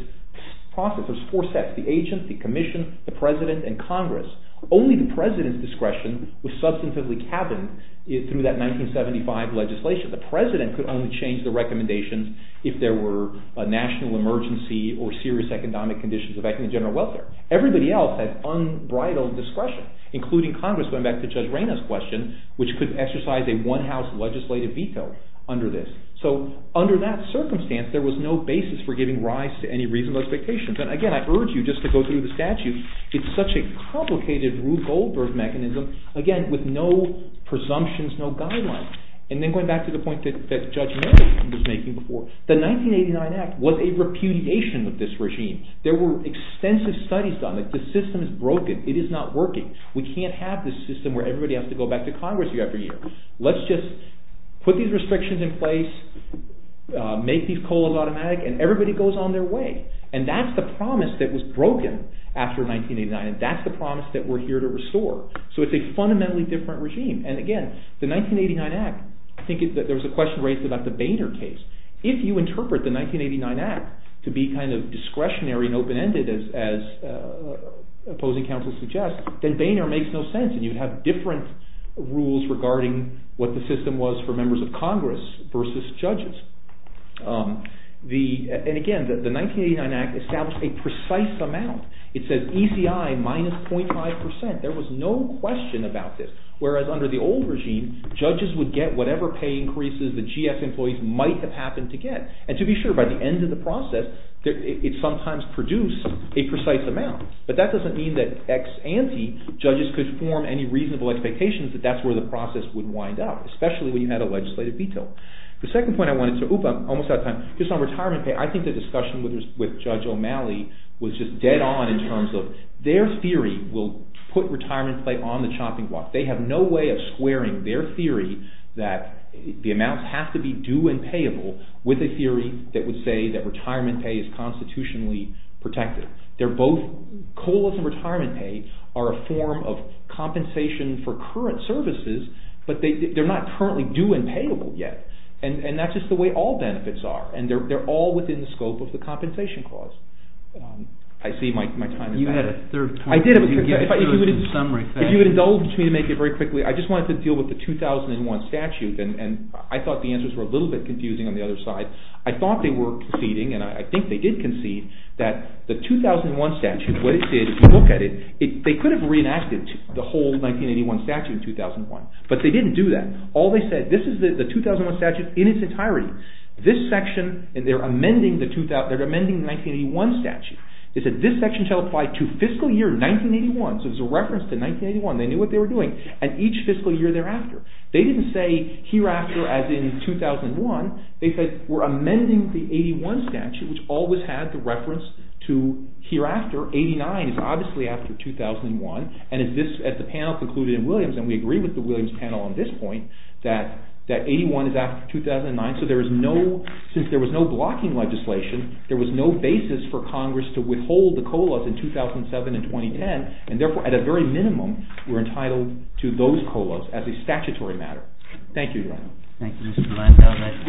process, there's four sets. The agent, the commission, the president, and Congress. Only the president's discretion was substantively cabined through that 1975 legislation. The president could only change the recommendations if there were a national emergency or serious economic conditions affecting general welfare. Everybody else had unbridled discretion, including Congress, going back to Judge Reyna's question, which could exercise a one-house legislative veto under this. So under that circumstance, there was no basis for giving rise to any reasonable expectations. And again, I urge you just to go through the statute. It's such a complicated Rube Goldberg mechanism, again, with no presumptions, no guidelines. And then going back to the point that Judge Miller was making before, the 1989 act was a repudiation of this regime. There were extensive studies done. The system is broken. It is not working. We can't have this system where everybody has to go back to Congress year after year. Let's just put these restrictions in place, make these COLAs automatic, and everybody goes on their way. And that's the promise that was broken after 1989, and that's the promise that we're here to restore. So it's a fundamentally different regime. And again, the 1989 act, I think there was a question raised about the Boehner case. If you interpret the 1989 act to be kind of discretionary and open-ended, as opposing counsel suggests, then Boehner makes no sense, and you have different rules regarding what the system was for members of Congress versus judges. And again, the 1989 act established a precise amount. It says ECI minus 0.5%. There was no question about this. Whereas under the old regime, judges would get whatever pay increases the GS employees might have happened to get. And to be sure, by the end of the process, it sometimes produced a precise amount. But that doesn't mean that ex ante judges could form any reasonable expectations that that's where the process would wind up, especially when you had a legislative veto. The second point I wanted to—oop, I'm almost out of time. Just on retirement pay, I think the discussion with Judge O'Malley was just dead on in terms of their theory will put retirement pay on the chopping block. They have no way of squaring their theory that the amounts have to be due and payable with a theory that would say that retirement pay is constitutionally protected. They're both—COLAs and retirement pay are a form of compensation for current services, but they're not currently due and payable yet. And that's just the way all benefits are. And they're all within the scope of the compensation clause. I see my time is up. You had a third point. I did. If you would indulge me to make it very quickly, I just wanted to deal with the 2001 statute, and I thought the answers were a little bit confusing on the other side. I thought they were conceding, and I think they did concede, that the 2001 statute, if you look at it, they could have reenacted the whole 1981 statute in 2001, but they didn't do that. All they said, this is the 2001 statute in its entirety. This section, and they're amending the 1981 statute. They said this section shall apply to fiscal year 1981. So it's a reference to 1981. They knew what they were doing. And each fiscal year thereafter. They didn't say hereafter as in 2001. They said we're amending the 81 statute, which always had the reference to hereafter. 89 is obviously after 2001. And as the panel concluded in Williams, and we agree with the Williams panel on this point, that 81 is after 2009. So there is no, since there was no blocking legislation, there was no basis for Congress to withhold the COLAs in 2007 and 2010. And therefore, at a very minimum, we're entitled to those COLAs as a statutory matter. Thank you, John. Thank you, Mr. Blanton. That concludes our proceedings. All rise.